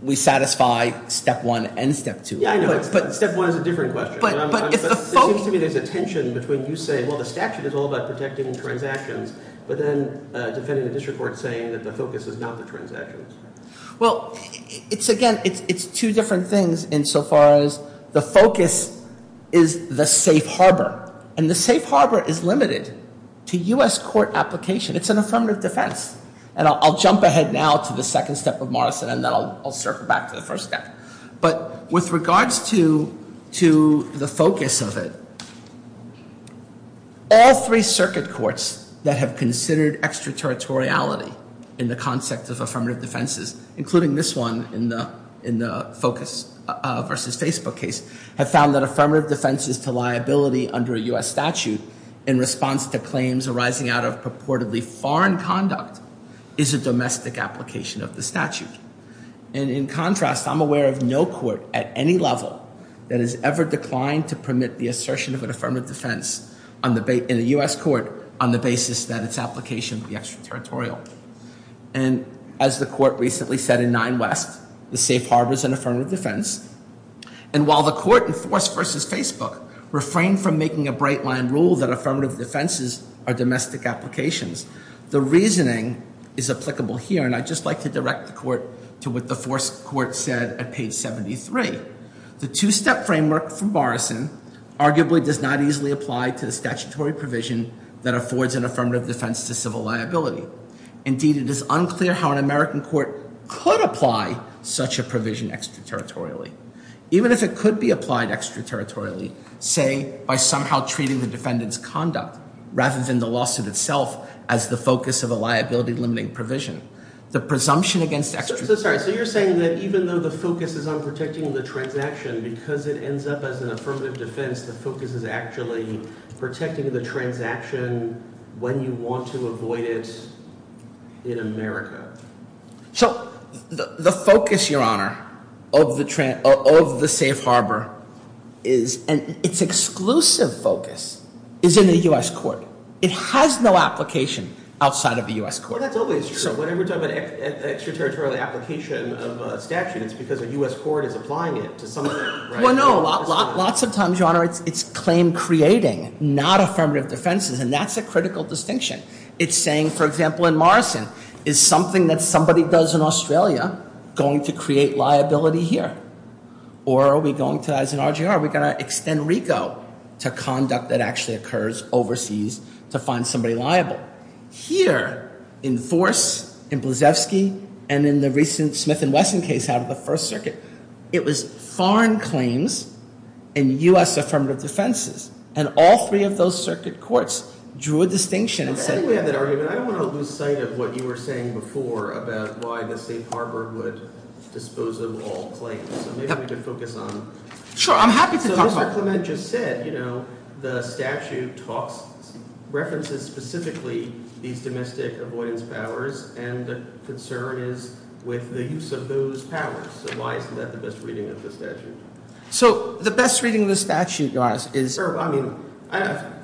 we satisfy step one and step two. Yeah, I know. Step one is a different question. It seems to me there's a tension between you saying, well, the statute is all about protecting transactions, but then defending the district court saying that the focus is not the transactions. Well, again, it's two different things insofar as the focus is the safe harbor. And the safe harbor is limited to U.S. court application. It's an affirmative defense. And I'll jump ahead now to the second step of Morrison, and then I'll circle back to the first step. But with regards to the focus of it, all three circuit courts that have considered extraterritoriality in the concept of affirmative defenses, including this one in the focus versus Facebook case, have found that affirmative defenses to liability under a U.S. statute in response to claims arising out of purportedly foreign conduct is a domestic application of the statute. And in contrast, I'm aware of no court at any level that has ever declined to permit the assertion of an affirmative defense in a U.S. court on the basis that its application would be extraterritorial. And as the court recently said in Nine West, the safe harbor is an affirmative defense. And while the court in force versus Facebook refrained from making a bright line rule that affirmative defenses are domestic applications, the reasoning is applicable here. And I'd just like to direct the court to what the fourth court said at page 73. The two-step framework from Morrison arguably does not easily apply to the statutory provision that affords an affirmative defense to civil liability. Indeed, it is unclear how an American court could apply such a provision extraterritorially. Even if it could be applied extraterritorially, say, by somehow treating the defendant's conduct rather than the lawsuit itself as the focus of a liability-limiting provision. The presumption against extraterritorialism. So you're saying that even though the focus is on protecting the transaction, because it ends up as an affirmative defense, the focus is actually protecting the transaction when you want to avoid it in America. So the focus, Your Honor, of the safe harbor is, and its exclusive focus, is in the U.S. court. It has no application outside of the U.S. court. Well, that's always true. Whenever we're talking about extraterritorial application of a statute, it's because a U.S. court is applying it to something, right? Well, no. Lots of times, Your Honor, it's claim-creating, not affirmative defenses. And that's a critical distinction. It's saying, for example, in Morrison, is something that somebody does in Australia going to create liability here? Or are we going to, as in RGR, are we going to extend RICO to conduct that actually occurs overseas to find somebody liable? Here, in Force, in Blasevsky, and in the recent Smith and Wesson case out of the First Circuit, it was foreign claims and U.S. affirmative defenses. And all three of those circuit courts drew a distinction and said that. I don't think we have that argument. I don't want to lose sight of what you were saying before about why the State Department would dispose of all claims. So maybe we could focus on that. Sure, I'm happy to talk about that. So Mr. Clement just said the statute talks, references specifically these domestic avoidance powers, and the concern is with the use of those powers. So why isn't that the best reading of the statute? So the best reading of the statute, Your Honor, is—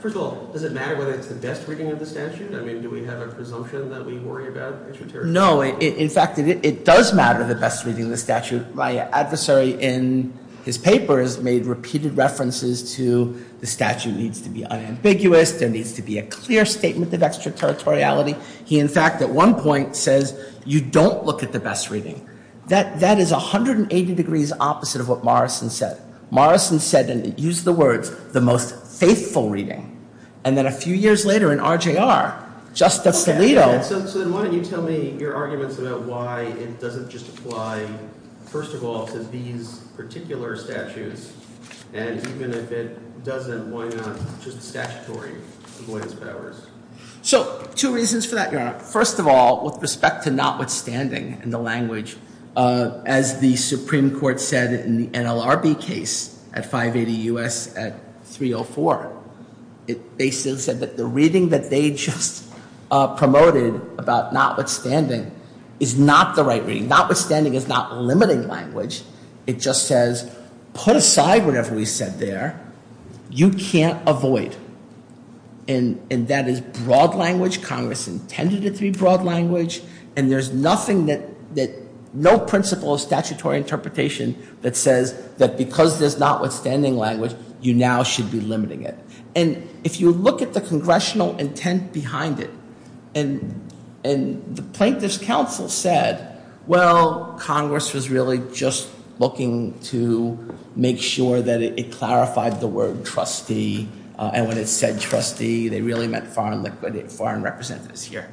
First of all, does it matter whether it's the best reading of the statute? I mean, do we have a presumption that we worry about extraterritorial— No, in fact, it does matter the best reading of the statute. My adversary in his papers made repeated references to the statute needs to be unambiguous, there needs to be a clear statement of extraterritoriality. He, in fact, at one point says you don't look at the best reading. That is 180 degrees opposite of what Morrison said. Morrison said, and used the words, the most faithful reading. And then a few years later in RJR, Justice Alito— So then why don't you tell me your arguments about why it doesn't just apply, first of all, to these particular statutes, and even if it doesn't, why not just statutory avoidance powers? So two reasons for that, Your Honor. First of all, with respect to notwithstanding in the language, as the Supreme Court said in the NLRB case at 580 U.S. at 304, they said that the reading that they just promoted about notwithstanding is not the right reading. Notwithstanding is not limiting language. It just says put aside whatever we said there. You can't avoid. And that is broad language. Congress intended it to be broad language. And there's nothing that—no principle of statutory interpretation that says that because there's notwithstanding language, you now should be limiting it. And if you look at the congressional intent behind it, and the Plaintiffs' Council said, well, Congress was really just looking to make sure that it clarified the word trustee, and when it said trustee, they really meant foreign representatives here.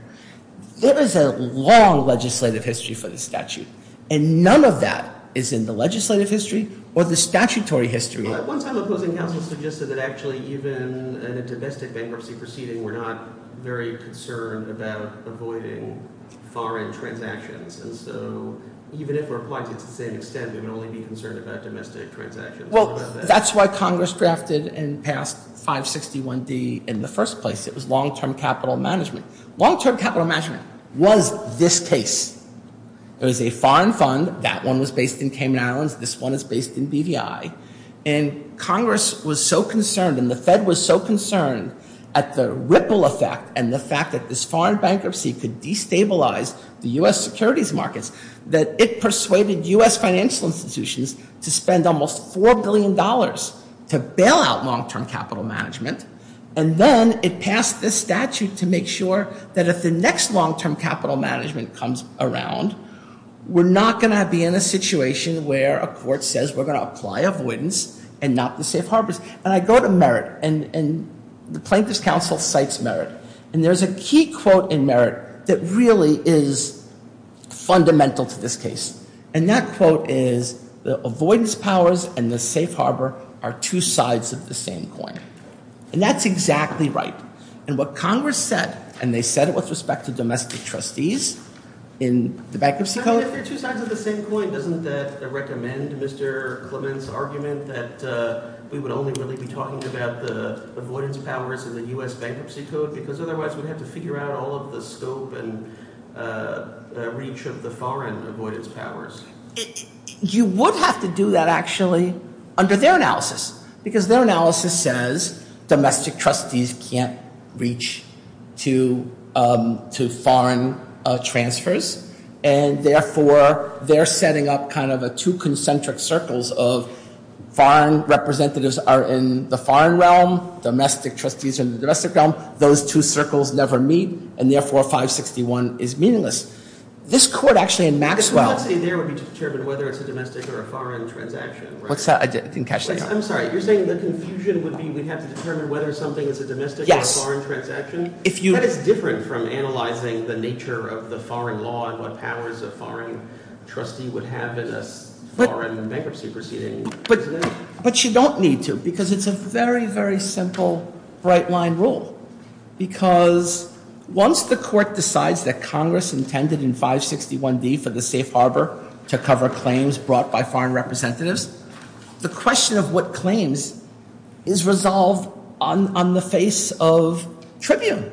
There is a long legislative history for this statute, and none of that is in the legislative history or the statutory history. One time the Plaintiffs' Council suggested that actually even in a domestic bankruptcy proceeding, we're not very concerned about avoiding foreign transactions. And so even if we're applying it to the same extent, we can only be concerned about domestic transactions. Well, that's why Congress drafted and passed 561D in the first place. It was long-term capital management. Long-term capital management was this case. It was a foreign fund. That one was based in Cayman Islands. This one is based in BVI. And Congress was so concerned and the Fed was so concerned at the ripple effect and the fact that this foreign bankruptcy could destabilize the U.S. securities markets that it persuaded U.S. financial institutions to spend almost $4 billion to bail out long-term capital management. And then it passed this statute to make sure that if the next long-term capital management comes around, we're not going to be in a situation where a court says we're going to apply avoidance and not the safe harbors. And I go to Merit, and the Plaintiffs' Council cites Merit. And there's a key quote in Merit that really is fundamental to this case. And that quote is, the avoidance powers and the safe harbor are two sides of the same coin. And that's exactly right. And what Congress said, and they said it with respect to domestic trustees in the Bankruptcy Code. If they're two sides of the same coin, doesn't that recommend Mr. Clement's argument that we would only really be talking about the avoidance powers in the U.S. Bankruptcy Code? Because otherwise we'd have to figure out all of the scope and reach of the foreign avoidance powers. You would have to do that, actually, under their analysis. Because their analysis says domestic trustees can't reach to foreign transfers. And, therefore, they're setting up kind of two concentric circles of foreign representatives are in the foreign realm, domestic trustees are in the domestic realm. Those two circles never meet, and, therefore, 561 is meaningless. This court, actually, in Maxwell – But you're not saying there would be determined whether it's a domestic or a foreign transaction, right? I didn't catch that. I'm sorry. You're saying the confusion would be we'd have to determine whether something is a domestic or a foreign transaction? Yes. That is different from analyzing the nature of the foreign law and what powers a foreign trustee would have in a foreign bankruptcy proceeding, isn't it? But you don't need to, because it's a very, very simple, bright-line rule. Because once the court decides that Congress intended in 561D for the safe harbor to cover claims brought by foreign representatives, the question of what claims is resolved on the face of tribune,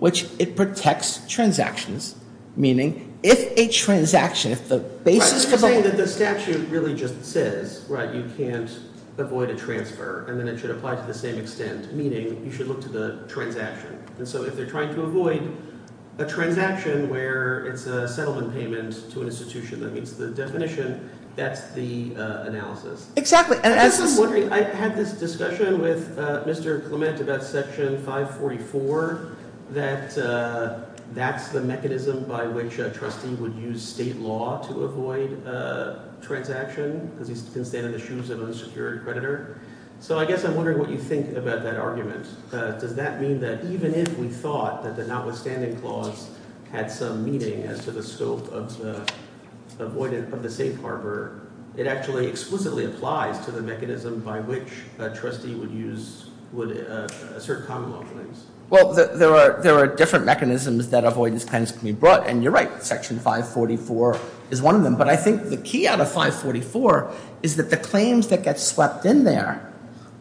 which it protects transactions, meaning if a transaction, if the basis for the – But you're saying that the statute really just says, right, you can't avoid a transfer, and then it should apply to the same extent, meaning you should look to the transaction. And so if they're trying to avoid a transaction where it's a settlement payment to an institution that meets the definition, that's the analysis. Exactly. I guess I'm wondering – I had this discussion with Mr. Clement about Section 544 that that's the mechanism by which a trustee would use state law to avoid a transaction because he can stand in the shoes of an unsecured creditor. So I guess I'm wondering what you think about that argument. Does that mean that even if we thought that the notwithstanding clause had some meaning as to the scope of the safe harbor, it actually explicitly applies to the mechanism by which a trustee would use – would assert common law claims? Well, there are different mechanisms that avoidance claims can be brought, and you're right. But I think the key out of 544 is that the claims that get swept in there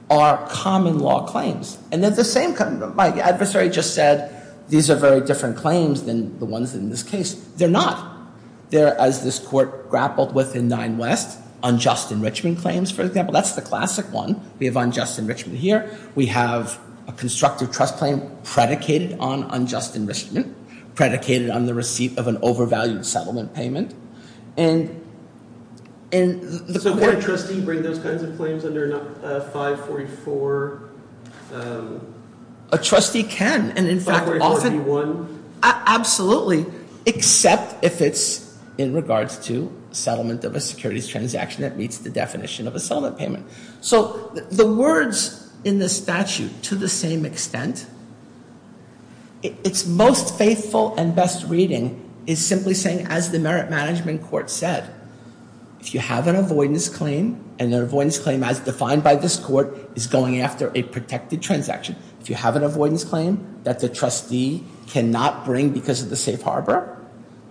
are common law claims. And they're the same – my adversary just said these are very different claims than the ones in this case. They're not. They're, as this Court grappled with in 9 West, unjust enrichment claims, for example. That's the classic one. We have unjust enrichment here. We have a constructive trust claim predicated on unjust enrichment, predicated on the receipt of an overvalued settlement payment. So can a trustee bring those kinds of claims under 544? A trustee can, and in fact often – 544B1? Absolutely, except if it's in regards to settlement of a securities transaction that meets the definition of a settlement payment. So the words in this statute, to the same extent, its most faithful and best reading is simply saying, as the Merit Management Court said, if you have an avoidance claim, and the avoidance claim as defined by this Court is going after a protected transaction, if you have an avoidance claim that the trustee cannot bring because of the safe harbor,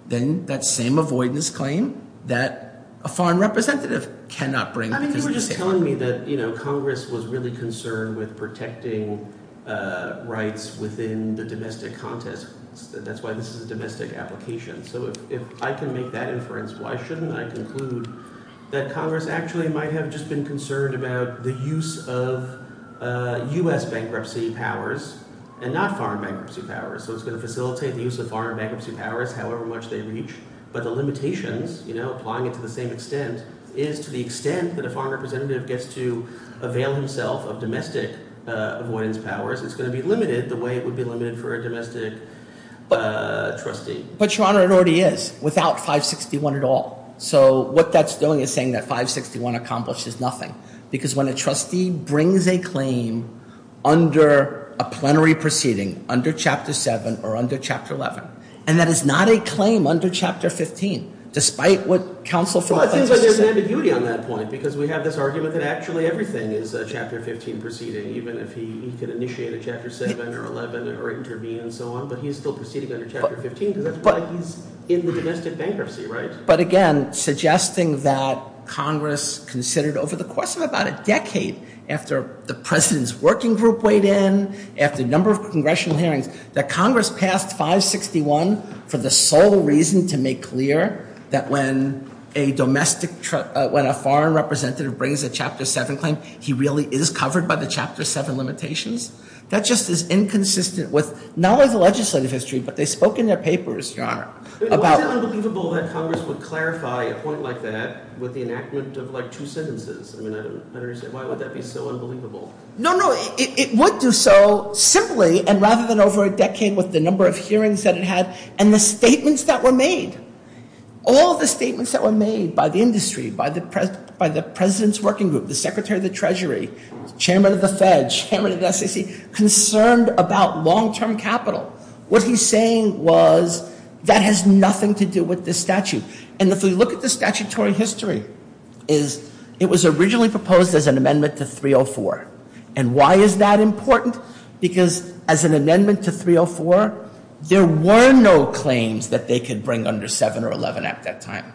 then that same avoidance claim that a foreign representative cannot bring because of the safe harbor – it's telling me that Congress was really concerned with protecting rights within the domestic context. That's why this is a domestic application. So if I can make that inference, why shouldn't I conclude that Congress actually might have just been concerned about the use of U.S. bankruptcy powers and not foreign bankruptcy powers? So it's going to facilitate the use of foreign bankruptcy powers however much they reach, but the limitations, applying it to the same extent, is to the extent that a foreign representative gets to avail himself of domestic avoidance powers, it's going to be limited the way it would be limited for a domestic trustee. But, Your Honor, it already is without 561 at all. So what that's doing is saying that 561 accomplishes nothing, because when a trustee brings a claim under a plenary proceeding, under Chapter 7 or under Chapter 11, and that is not a claim under Chapter 15, despite what counsel for – Well, I think there's an ambiguity on that point, because we have this argument that actually everything is Chapter 15 proceeding, even if he could initiate a Chapter 7 or 11 or intervene and so on, but he's still proceeding under Chapter 15, because that's why he's in the domestic bankruptcy, right? But, again, suggesting that Congress considered over the course of about a decade after the president's working group weighed in, after a number of congressional hearings, that Congress passed 561 for the sole reason to make clear that when a domestic – when a foreign representative brings a Chapter 7 claim, he really is covered by the Chapter 7 limitations, that just is inconsistent with not only the legislative history, but they spoke in their papers, Your Honor, about – Was it unbelievable that Congress would clarify a point like that with the enactment of, like, two sentences? I mean, I don't understand. Why would that be so unbelievable? No, no, it would do so simply, and rather than over a decade with the number of hearings that it had and the statements that were made, all the statements that were made by the industry, by the president's working group, the Secretary of the Treasury, Chairman of the Fed, Chairman of the SEC, concerned about long-term capital. What he's saying was, that has nothing to do with this statute. And if we look at the statutory history, it was originally proposed as an amendment to 304. And why is that important? Because as an amendment to 304, there were no claims that they could bring under 7 or 11 at that time.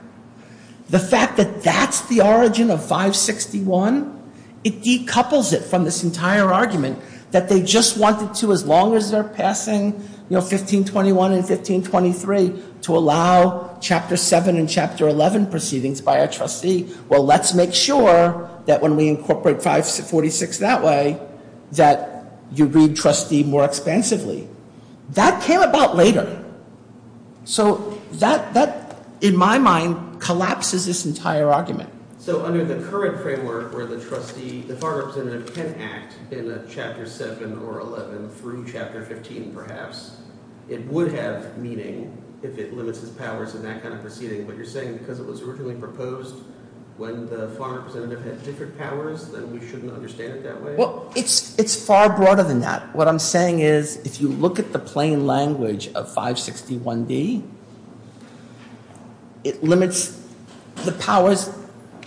The fact that that's the origin of 561, it decouples it from this entire argument that they just wanted to, as long as they're passing, you know, 1521 and 1523, to allow Chapter 7 and Chapter 11 proceedings by a trustee, well, let's make sure that when we incorporate 546 that way, that you read trustee more expansively. That came about later. So that, in my mind, collapses this entire argument. So under the current framework where the trustee, the Farm Representative can act in a Chapter 7 or 11 through Chapter 15, perhaps, it would have meaning if it limits its powers in that kind of proceeding. But you're saying because it was originally proposed when the Farm Representative had different powers, that we shouldn't understand it that way? Well, it's far broader than that. What I'm saying is, if you look at the plain language of 561D, it limits the powers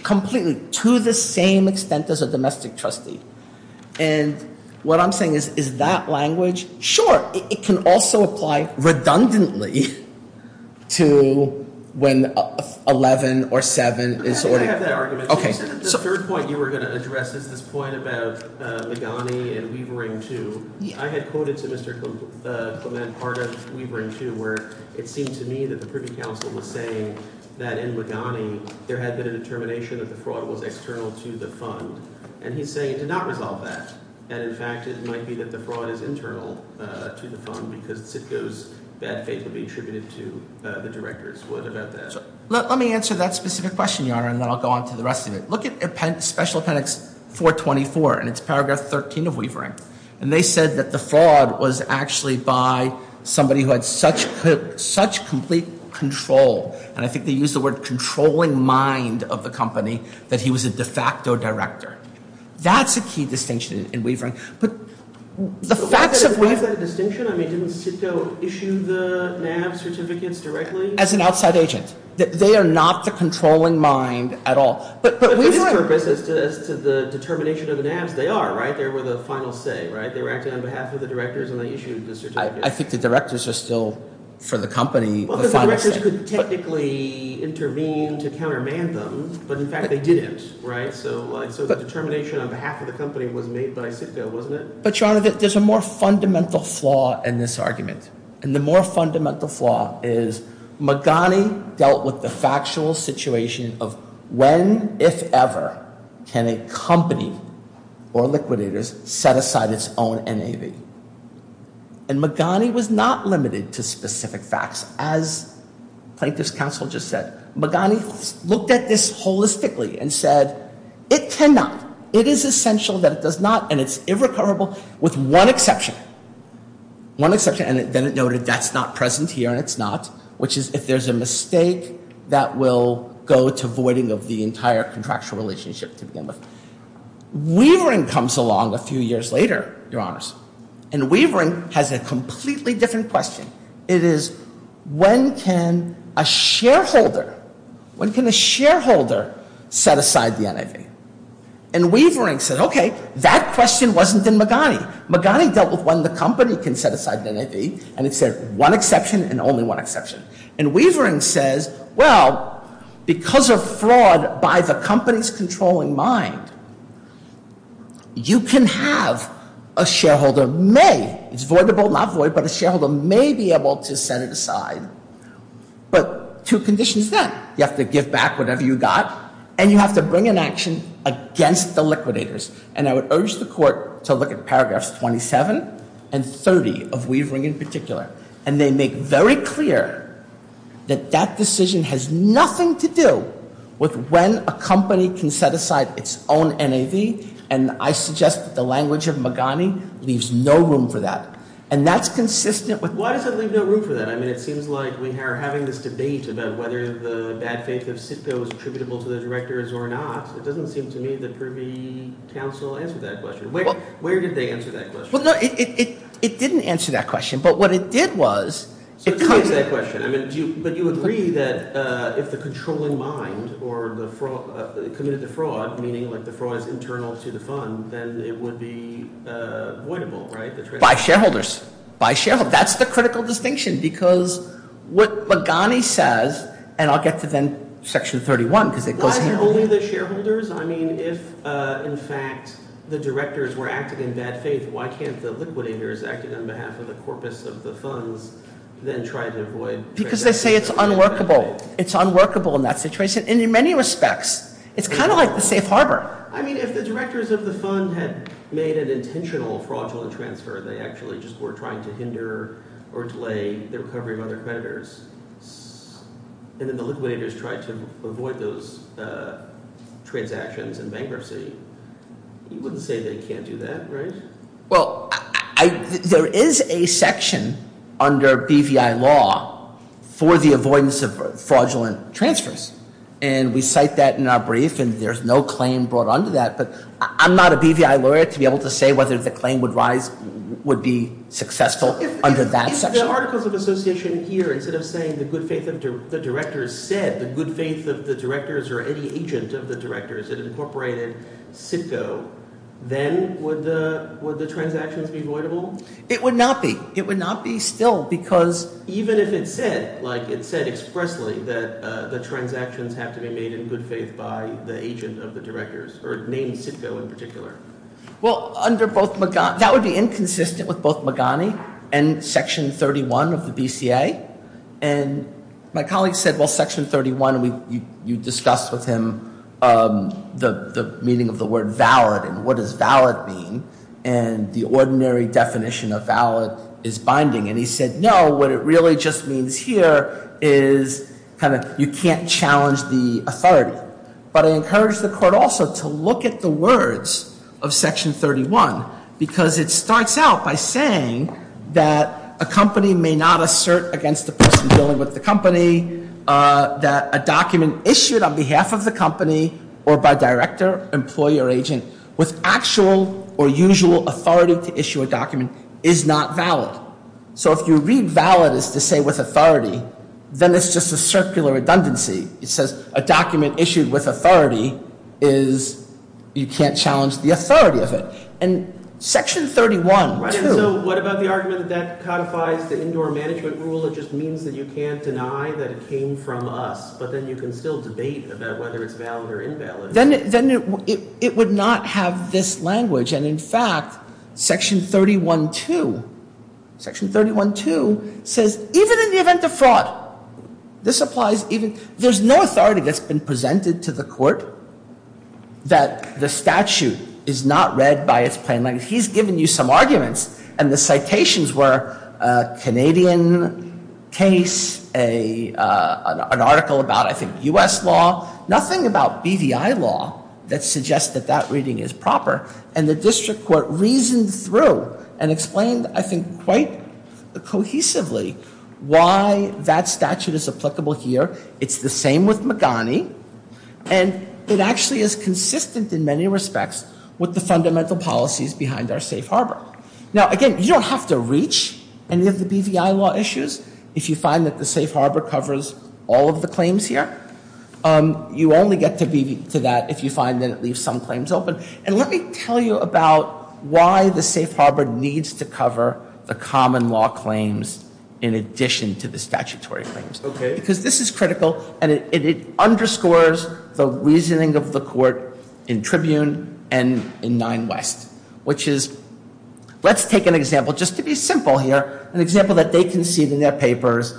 completely to the same extent as a domestic trustee. And what I'm saying is, is that language, sure, it can also apply redundantly to when 11 or 7 is ordered. I have that argument. The third point you were going to address is this point about Meghani and Weavering 2. I had quoted to Mr. Clement part of Weavering 2 where it seemed to me that the Privy Council was saying that in Meghani, there had been a determination that the fraud was external to the fund. And he's saying to not resolve that. And in fact, it might be that the fraud is internal to the fund because Sitko's bad faith would be attributed to the directors. What about that? Let me answer that specific question, Your Honor, and then I'll go on to the rest of it. Look at Special Appendix 424, and it's Paragraph 13 of Weavering. And they said that the fraud was actually by somebody who had such complete control, and I think they used the word controlling mind of the company, that he was a de facto director. That's a key distinction in Weavering. But the facts of Weavering... So why is that a distinction? I mean, didn't Sitko issue the NAB certificates directly? As an outside agent. They are not the controlling mind at all. But for this purpose, as to the determination of the NABs, they are, right? They were the final say, right? They were acting on behalf of the directors, and they issued the certificates. I think the directors are still, for the company, the final say. Well, the directors could technically intervene to countermand them, but in fact they didn't, right? So the determination on behalf of the company was made by Sitko, wasn't it? But, Your Honor, there's a more fundamental flaw in this argument. And the more fundamental flaw is Magani dealt with the factual situation of when, if ever, can a company or liquidators set aside its own NAB. And Magani was not limited to specific facts, as plaintiff's counsel just said. Magani looked at this holistically and said, it cannot. It is essential that it does not, and it's irrecoverable with one exception. One exception, and then it noted that's not present here, and it's not, which is if there's a mistake, that will go to voiding of the entire contractual relationship to begin with. Weavering comes along a few years later, Your Honors, and Weavering has a completely different question. It is, when can a shareholder, when can a shareholder set aside the NAB? And Weavering said, okay, that question wasn't in Magani. Magani dealt with when the company can set aside the NAB, and it said one exception and only one exception. And Weavering says, well, because of fraud by the company's controlling mind, you can have a shareholder may, it's voidable, not void, but a shareholder may be able to set it aside, but two conditions then. You have to give back whatever you got, and you have to bring an action against the liquidators. And I would urge the court to look at paragraphs 27 and 30 of Weavering in particular, and they make very clear that that decision has nothing to do with when a company can set aside its own NAB, and I suggest that the language of Magani leaves no room for that. And that's consistent with why does it leave no room for that? I mean, it seems like we are having this debate about whether the bad faith of SIPCO is attributable to the directors or not. It doesn't seem to me that Kirby counsel answered that question. Where did they answer that question? Well, no, it didn't answer that question. But what it did was it comes- So it takes that question. I mean, but you agree that if the controlling mind or the fraud, committed the fraud, meaning like the fraud is internal to the fund, then it would be voidable, right? By shareholders. By shareholders. That's the critical distinction because what Magani says, and I'll get to then section 31 because it goes- Not only the shareholders. I mean, if in fact the directors were acting in bad faith, why can't the liquidators acting on behalf of the corpus of the funds then try to avoid- Because they say it's unworkable. It's unworkable in that situation, and in many respects. It's kind of like the safe harbor. I mean, if the directors of the fund had made an intentional fraudulent transfer, they actually just were trying to hinder or delay the recovery of other creditors, and then the liquidators tried to avoid those transactions and bankruptcy, you wouldn't say they can't do that, right? Well, there is a section under BVI law for the avoidance of fraudulent transfers, and we cite that in our brief, and there's no claim brought under that, but I'm not a BVI lawyer to be able to say whether the claim would rise- would be successful under that section. If the Articles of Association here, instead of saying the good faith of the directors, said the good faith of the directors or any agent of the directors that incorporated CITCO, then would the transactions be voidable? It would not be. It would not be still because- Even if it said, like it said expressly, that the transactions have to be made in good faith by the agent of the directors, or named CITCO in particular. Well, under both- that would be inconsistent with both Magani and Section 31 of the BCA, and my colleague said, well, Section 31, you discussed with him the meaning of the word valid, and what does valid mean, and the ordinary definition of valid is binding, and he said, no, what it really just means here is kind of you can't challenge the authority, but I encourage the court also to look at the words of Section 31, because it starts out by saying that a company may not assert against the person dealing with the company, that a document issued on behalf of the company, or by director, employee, or agent, with actual or usual authority to issue a document is not valid. So if you read valid as to say with authority, then it's just a circular redundancy. It says a document issued with authority is- you can't challenge the authority of it. And Section 31- Right, and so what about the argument that codifies the indoor management rule, it just means that you can't deny that it came from us, but then you can still debate about whether it's valid or invalid. Then it would not have this language, and in fact, Section 31-2, Section 31-2 says even in the event of fraud, this applies even- there's no authority that's been presented to the court that the statute is not read by its plain language. He's given you some arguments, and the citations were a Canadian case, an article about, I think, U.S. law, nothing about BVI law that suggests that that reading is proper, and the district court reasoned through and explained, I think quite cohesively, why that statute is applicable here. It's the same with Magani, and it actually is consistent in many respects with the fundamental policies behind our safe harbor. Now, again, you don't have to reach any of the BVI law issues if you find that the safe harbor covers all of the claims here. You only get to that if you find that it leaves some claims open. And let me tell you about why the safe harbor needs to cover the common law claims in addition to the statutory claims, because this is critical, and it underscores the reasoning of the court in Tribune and in Nine West, which is, let's take an example, just to be simple here, an example that they concede in their papers,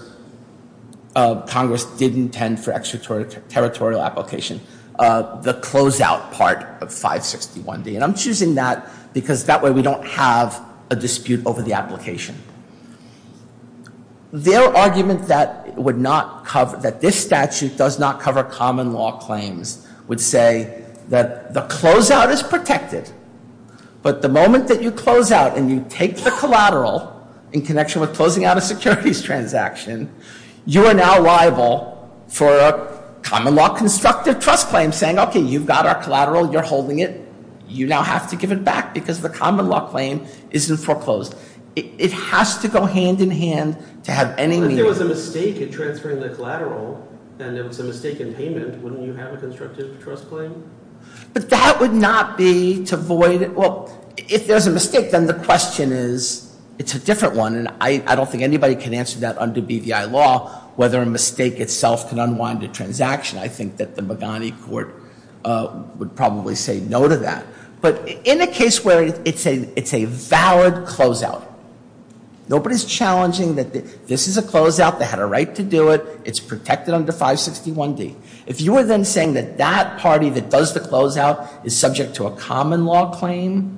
Congress did intend for extraterritorial application, the closeout part of 561D, and I'm choosing that because that way we don't have a dispute over the application. Their argument that this statute does not cover common law claims would say that the closeout is protected, but the moment that you closeout and you take the collateral in connection with closing out a securities transaction, you are now liable for a common law constructive trust claim saying, okay, you've got our collateral, you're holding it, you now have to give it back because the common law claim isn't foreclosed. It has to go hand in hand to have any meaning. If there was a mistake in transferring the collateral and there was a mistake in payment, wouldn't you have a constructive trust claim? But that would not be to void it. Well, if there's a mistake, then the question is, it's a different one, and I don't think anybody can answer that under BDI law, whether a mistake itself can unwind a transaction. I think that the Mugane court would probably say no to that. But in a case where it's a valid closeout, nobody's challenging that this is a closeout, they had a right to do it, it's protected under 561D. If you are then saying that that party that does the closeout is subject to a common law claim,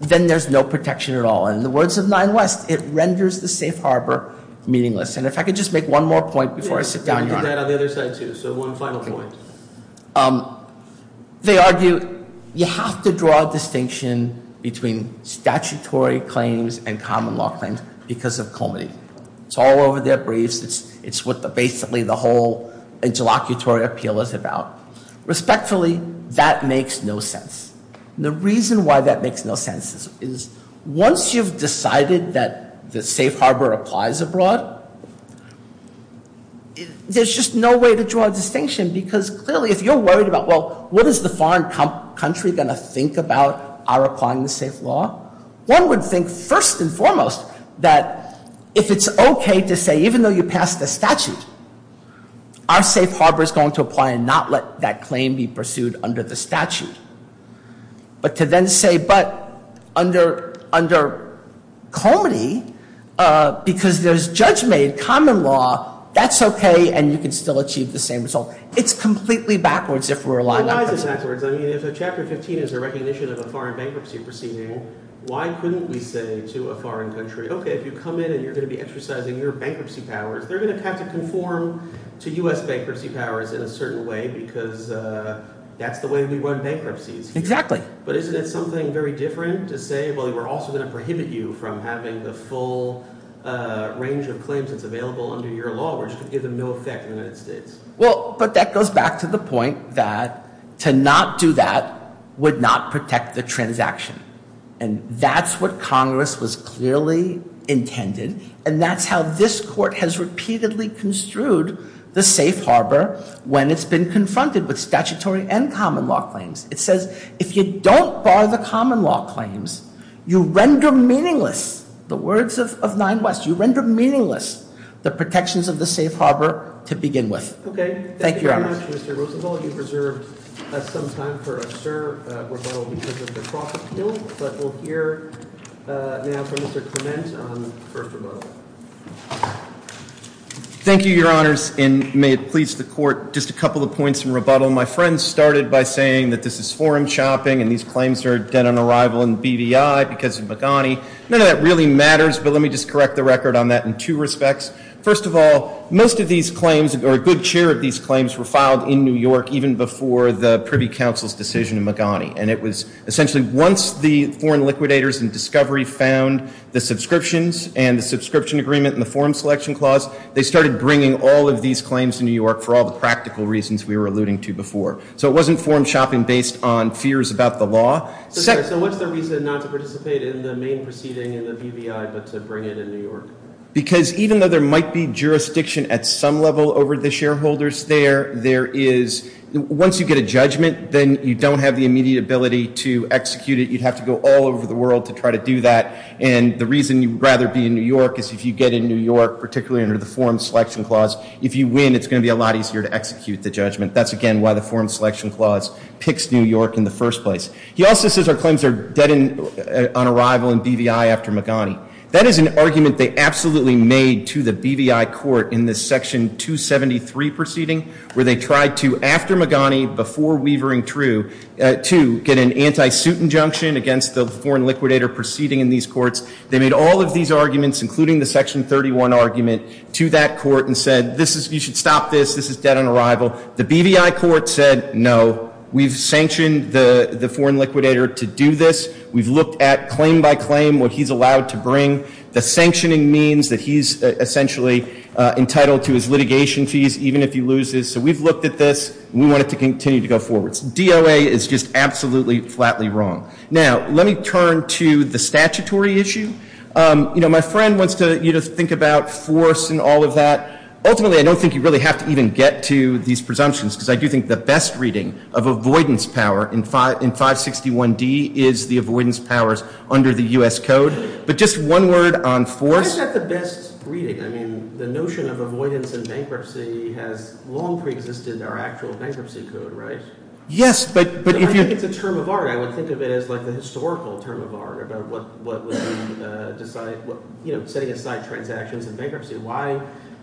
then there's no protection at all. And in the words of Nine West, it renders the safe harbor meaningless. And if I could just make one more point before I sit down, Your Honor. We can do that on the other side, too, so one final point. They argue you have to draw a distinction between statutory claims and common law claims because of comity. It's all over their briefs. It's what basically the whole interlocutory appeal is about. Respectfully, that makes no sense. The reason why that makes no sense is once you've decided that the safe harbor applies abroad, there's just no way to draw a distinction because clearly if you're worried about, well, what is the foreign country going to think about our applying the safe law? One would think first and foremost that if it's okay to say, even though you passed the statute, our safe harbor is going to apply and not let that claim be pursued under the statute. But to then say, but under comity because there's judge-made common law, that's okay and you can still achieve the same result. It's completely backwards if we're aligned. It's backwards. I mean if Chapter 15 is a recognition of a foreign bankruptcy proceeding, why couldn't we say to a foreign country, okay, if you come in and you're going to be exercising your bankruptcy powers, they're going to have to conform to U.S. bankruptcy powers in a certain way because that's the way we run bankruptcies. Exactly. But isn't it something very different to say, well, we're also going to prohibit you from having the full range of claims that's available under your law, which could give them no effect in the United States? Well, but that goes back to the point that to not do that would not protect the transaction, and that's what Congress was clearly intended, and that's how this court has repeatedly construed the safe harbor when it's been confronted with statutory and common law claims. It says if you don't bar the common law claims, you render meaningless, the words of 9 West, you render meaningless the protections of the safe harbor to begin with. Okay. Thank you very much, Mr. Roosevelt. Thank you, Your Honors, and may it please the court, just a couple of points in rebuttal. My friend started by saying that this is forum chopping, and these claims are dead on arrival in BVI because of McGonigal. None of that really matters, but let me just correct the record on that in two respects. First of all, most of these claims, or a good share of these claims, were filed in New York, They were filed in New York City. in New York even before the Privy Council's decision in McGonigal, and it was essentially once the foreign liquidators in discovery found the subscriptions and the subscription agreement and the forum selection clause, they started bringing all of these claims to New York for all the practical reasons we were alluding to before. So it wasn't forum shopping based on fears about the law. So what's the reason not to participate in the main proceeding in the BVI but to bring it in New York? Because even though there might be jurisdiction at some level over the shareholders there, there is, once you get a judgment, then you don't have the immediate ability to execute it. You'd have to go all over the world to try to do that, and the reason you'd rather be in New York is if you get in New York, particularly under the forum selection clause, if you win, it's going to be a lot easier to execute the judgment. That's, again, why the forum selection clause picks New York in the first place. He also says our claims are dead on arrival in BVI after McGonigal. That is an argument they absolutely made to the BVI court in the Section 273 proceeding where they tried to, after McGonigal, before Weaver and True, to get an anti-suit injunction against the foreign liquidator proceeding in these courts. They made all of these arguments, including the Section 31 argument, to that court and said, you should stop this, this is dead on arrival. The BVI court said, no, we've sanctioned the foreign liquidator to do this. We've looked at claim by claim what he's allowed to bring. The sanctioning means that he's essentially entitled to his litigation fees, even if he loses. So we've looked at this, and we want it to continue to go forward. DOA is just absolutely, flatly wrong. Now, let me turn to the statutory issue. You know, my friend wants you to think about force and all of that. Ultimately, I don't think you really have to even get to these presumptions, because I do think the best reading of avoidance power in 561D is the avoidance powers under the U.S. Code. But just one word on force. Why is that the best reading? I mean, the notion of avoidance in bankruptcy has long preexisted in our actual bankruptcy code, right? Yes, but if you – I think it's a term of art. I would think of it as like the historical term of art about what would be – you know, setting aside transactions in bankruptcy. Why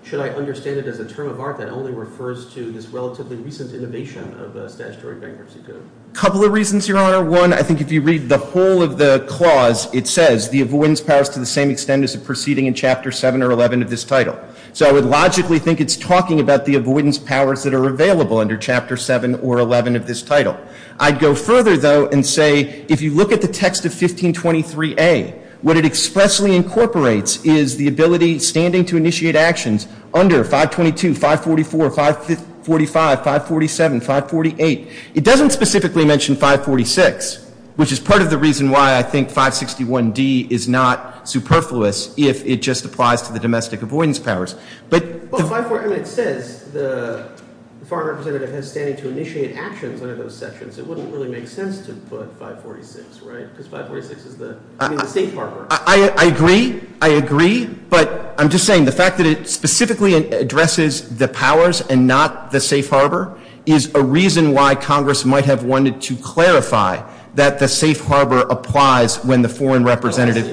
should I understand it as a term of art that only refers to this relatively recent innovation of statutory bankruptcy code? A couple of reasons, Your Honor. One, I think if you read the whole of the clause, it says, the avoidance powers to the same extent as the proceeding in Chapter 7 or 11 of this title. So I would logically think it's talking about the avoidance powers that are available under Chapter 7 or 11 of this title. I'd go further, though, and say, if you look at the text of 1523A, what it expressly incorporates is the ability standing to initiate actions under 522, 544, 545, 547, 548. It doesn't specifically mention 546, which is part of the reason why I think 561D is not superfluous, if it just applies to the domestic avoidance powers. But – Well, it says the foreign representative has standing to initiate actions under those sections. It wouldn't really make sense to put 546, right? Because 546 is the safe harbor. I agree. I agree. But I'm just saying the fact that it specifically addresses the powers and not the safe harbor is a reason why Congress might have wanted to clarify that the safe harbor applies when the foreign representative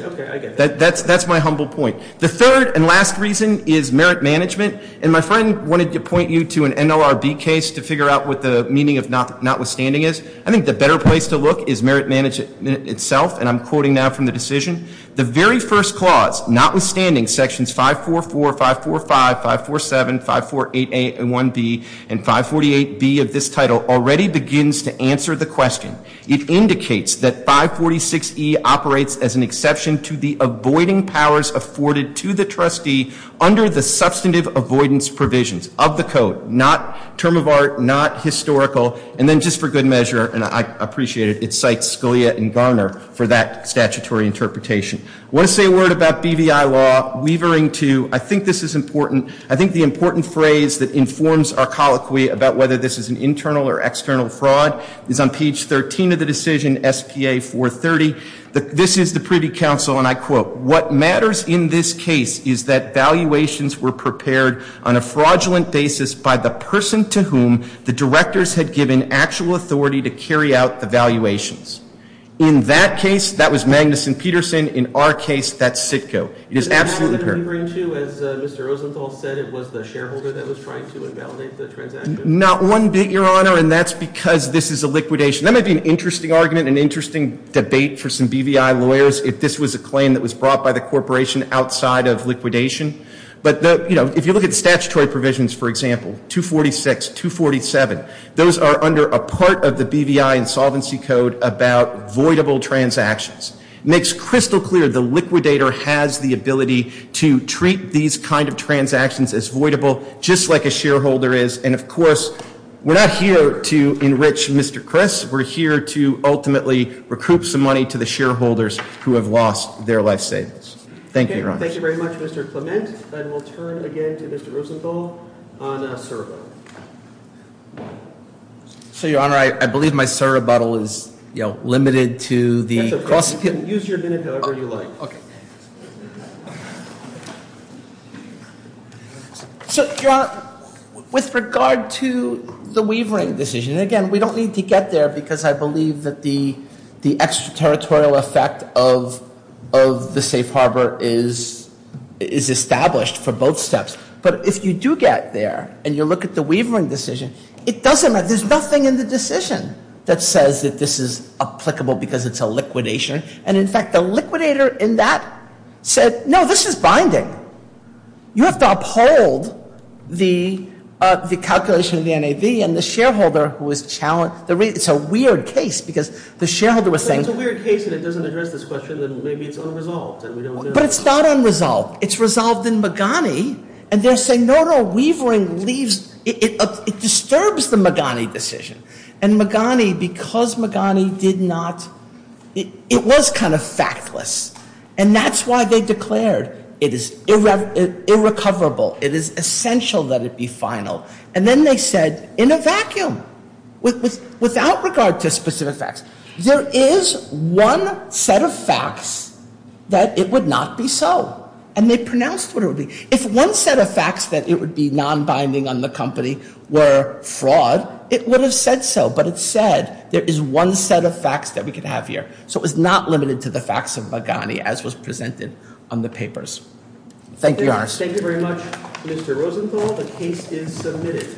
– That's my humble point. The third and last reason is merit management. And my friend wanted to point you to an NLRB case to figure out what the meaning of notwithstanding is. I think the better place to look is merit management itself, and I'm quoting now from the decision. The very first clause, notwithstanding sections 544, 545, 547, 548A and 1B and 548B of this title, already begins to answer the question. It indicates that 546E operates as an exception to the avoiding powers afforded to the trustee under the substantive avoidance provisions of the code, not term of art, not historical. And then just for good measure, and I appreciate it, it cites Scalia and Garner for that statutory interpretation. I want to say a word about BVI law, weavering to – I think this is important. I think the important phrase that informs our colloquy about whether this is an internal or external fraud is on page 13 of the decision, SPA 430. This is the Privy Council, and I quote, What matters in this case is that valuations were prepared on a fraudulent basis by the person to whom the directors had given actual authority to carry out the valuations. In that case, that was Magnuson-Peterson. In our case, that's CITCO. It is absolutely apparent. Is that what you're referring to as Mr. Rosenthal said it was the shareholder that was trying to invalidate the transaction? Not one bit, Your Honor, and that's because this is a liquidation. That might be an interesting argument, an interesting debate for some BVI lawyers if this was a claim that was brought by the corporation outside of liquidation. But, you know, if you look at the statutory provisions, for example, 246, 247, those are under a part of the BVI insolvency code about voidable transactions. It makes crystal clear the liquidator has the ability to treat these kind of transactions as voidable, just like a shareholder is. And, of course, we're not here to enrich Mr. Criss. We're here to ultimately recoup some money to the shareholders who have lost their life savings. Thank you, Your Honor. Thank you very much, Mr. Clement. And we'll turn again to Mr. Rosenthal on a surrebuttal. So, Your Honor, I believe my surrebuttal is, you know, limited to the cross- That's okay. You can use your minute however you like. Okay. So, Your Honor, with regard to the Weavering decision, again, we don't need to get there because I believe that the extraterritorial effect of the safe harbor is established for both steps. But if you do get there and you look at the Weavering decision, it doesn't matter. There's nothing in the decision that says that this is applicable because it's a liquidation. And, in fact, the liquidator in that said, no, this is binding. You have to uphold the calculation of the NAV and the shareholder who was challenged. It's a weird case because the shareholder was saying- But if it's a weird case and it doesn't address this question, then maybe it's unresolved and we don't know. But it's not unresolved. It's resolved in Magani. And they're saying, no, no, Weavering leaves. It disturbs the Magani decision. And Magani, because Magani did not- it was kind of factless. And that's why they declared it is irrecoverable. It is essential that it be final. And then they said, in a vacuum, without regard to specific facts, there is one set of facts that it would not be so. And they pronounced what it would be. If one set of facts that it would be nonbinding on the company were fraud, it would have said so. But it said there is one set of facts that we could have here. So it was not limited to the facts of Magani, as was presented on the papers. Thank you, Your Honor. Thank you very much, Mr. Rosenthal. The case is submitted.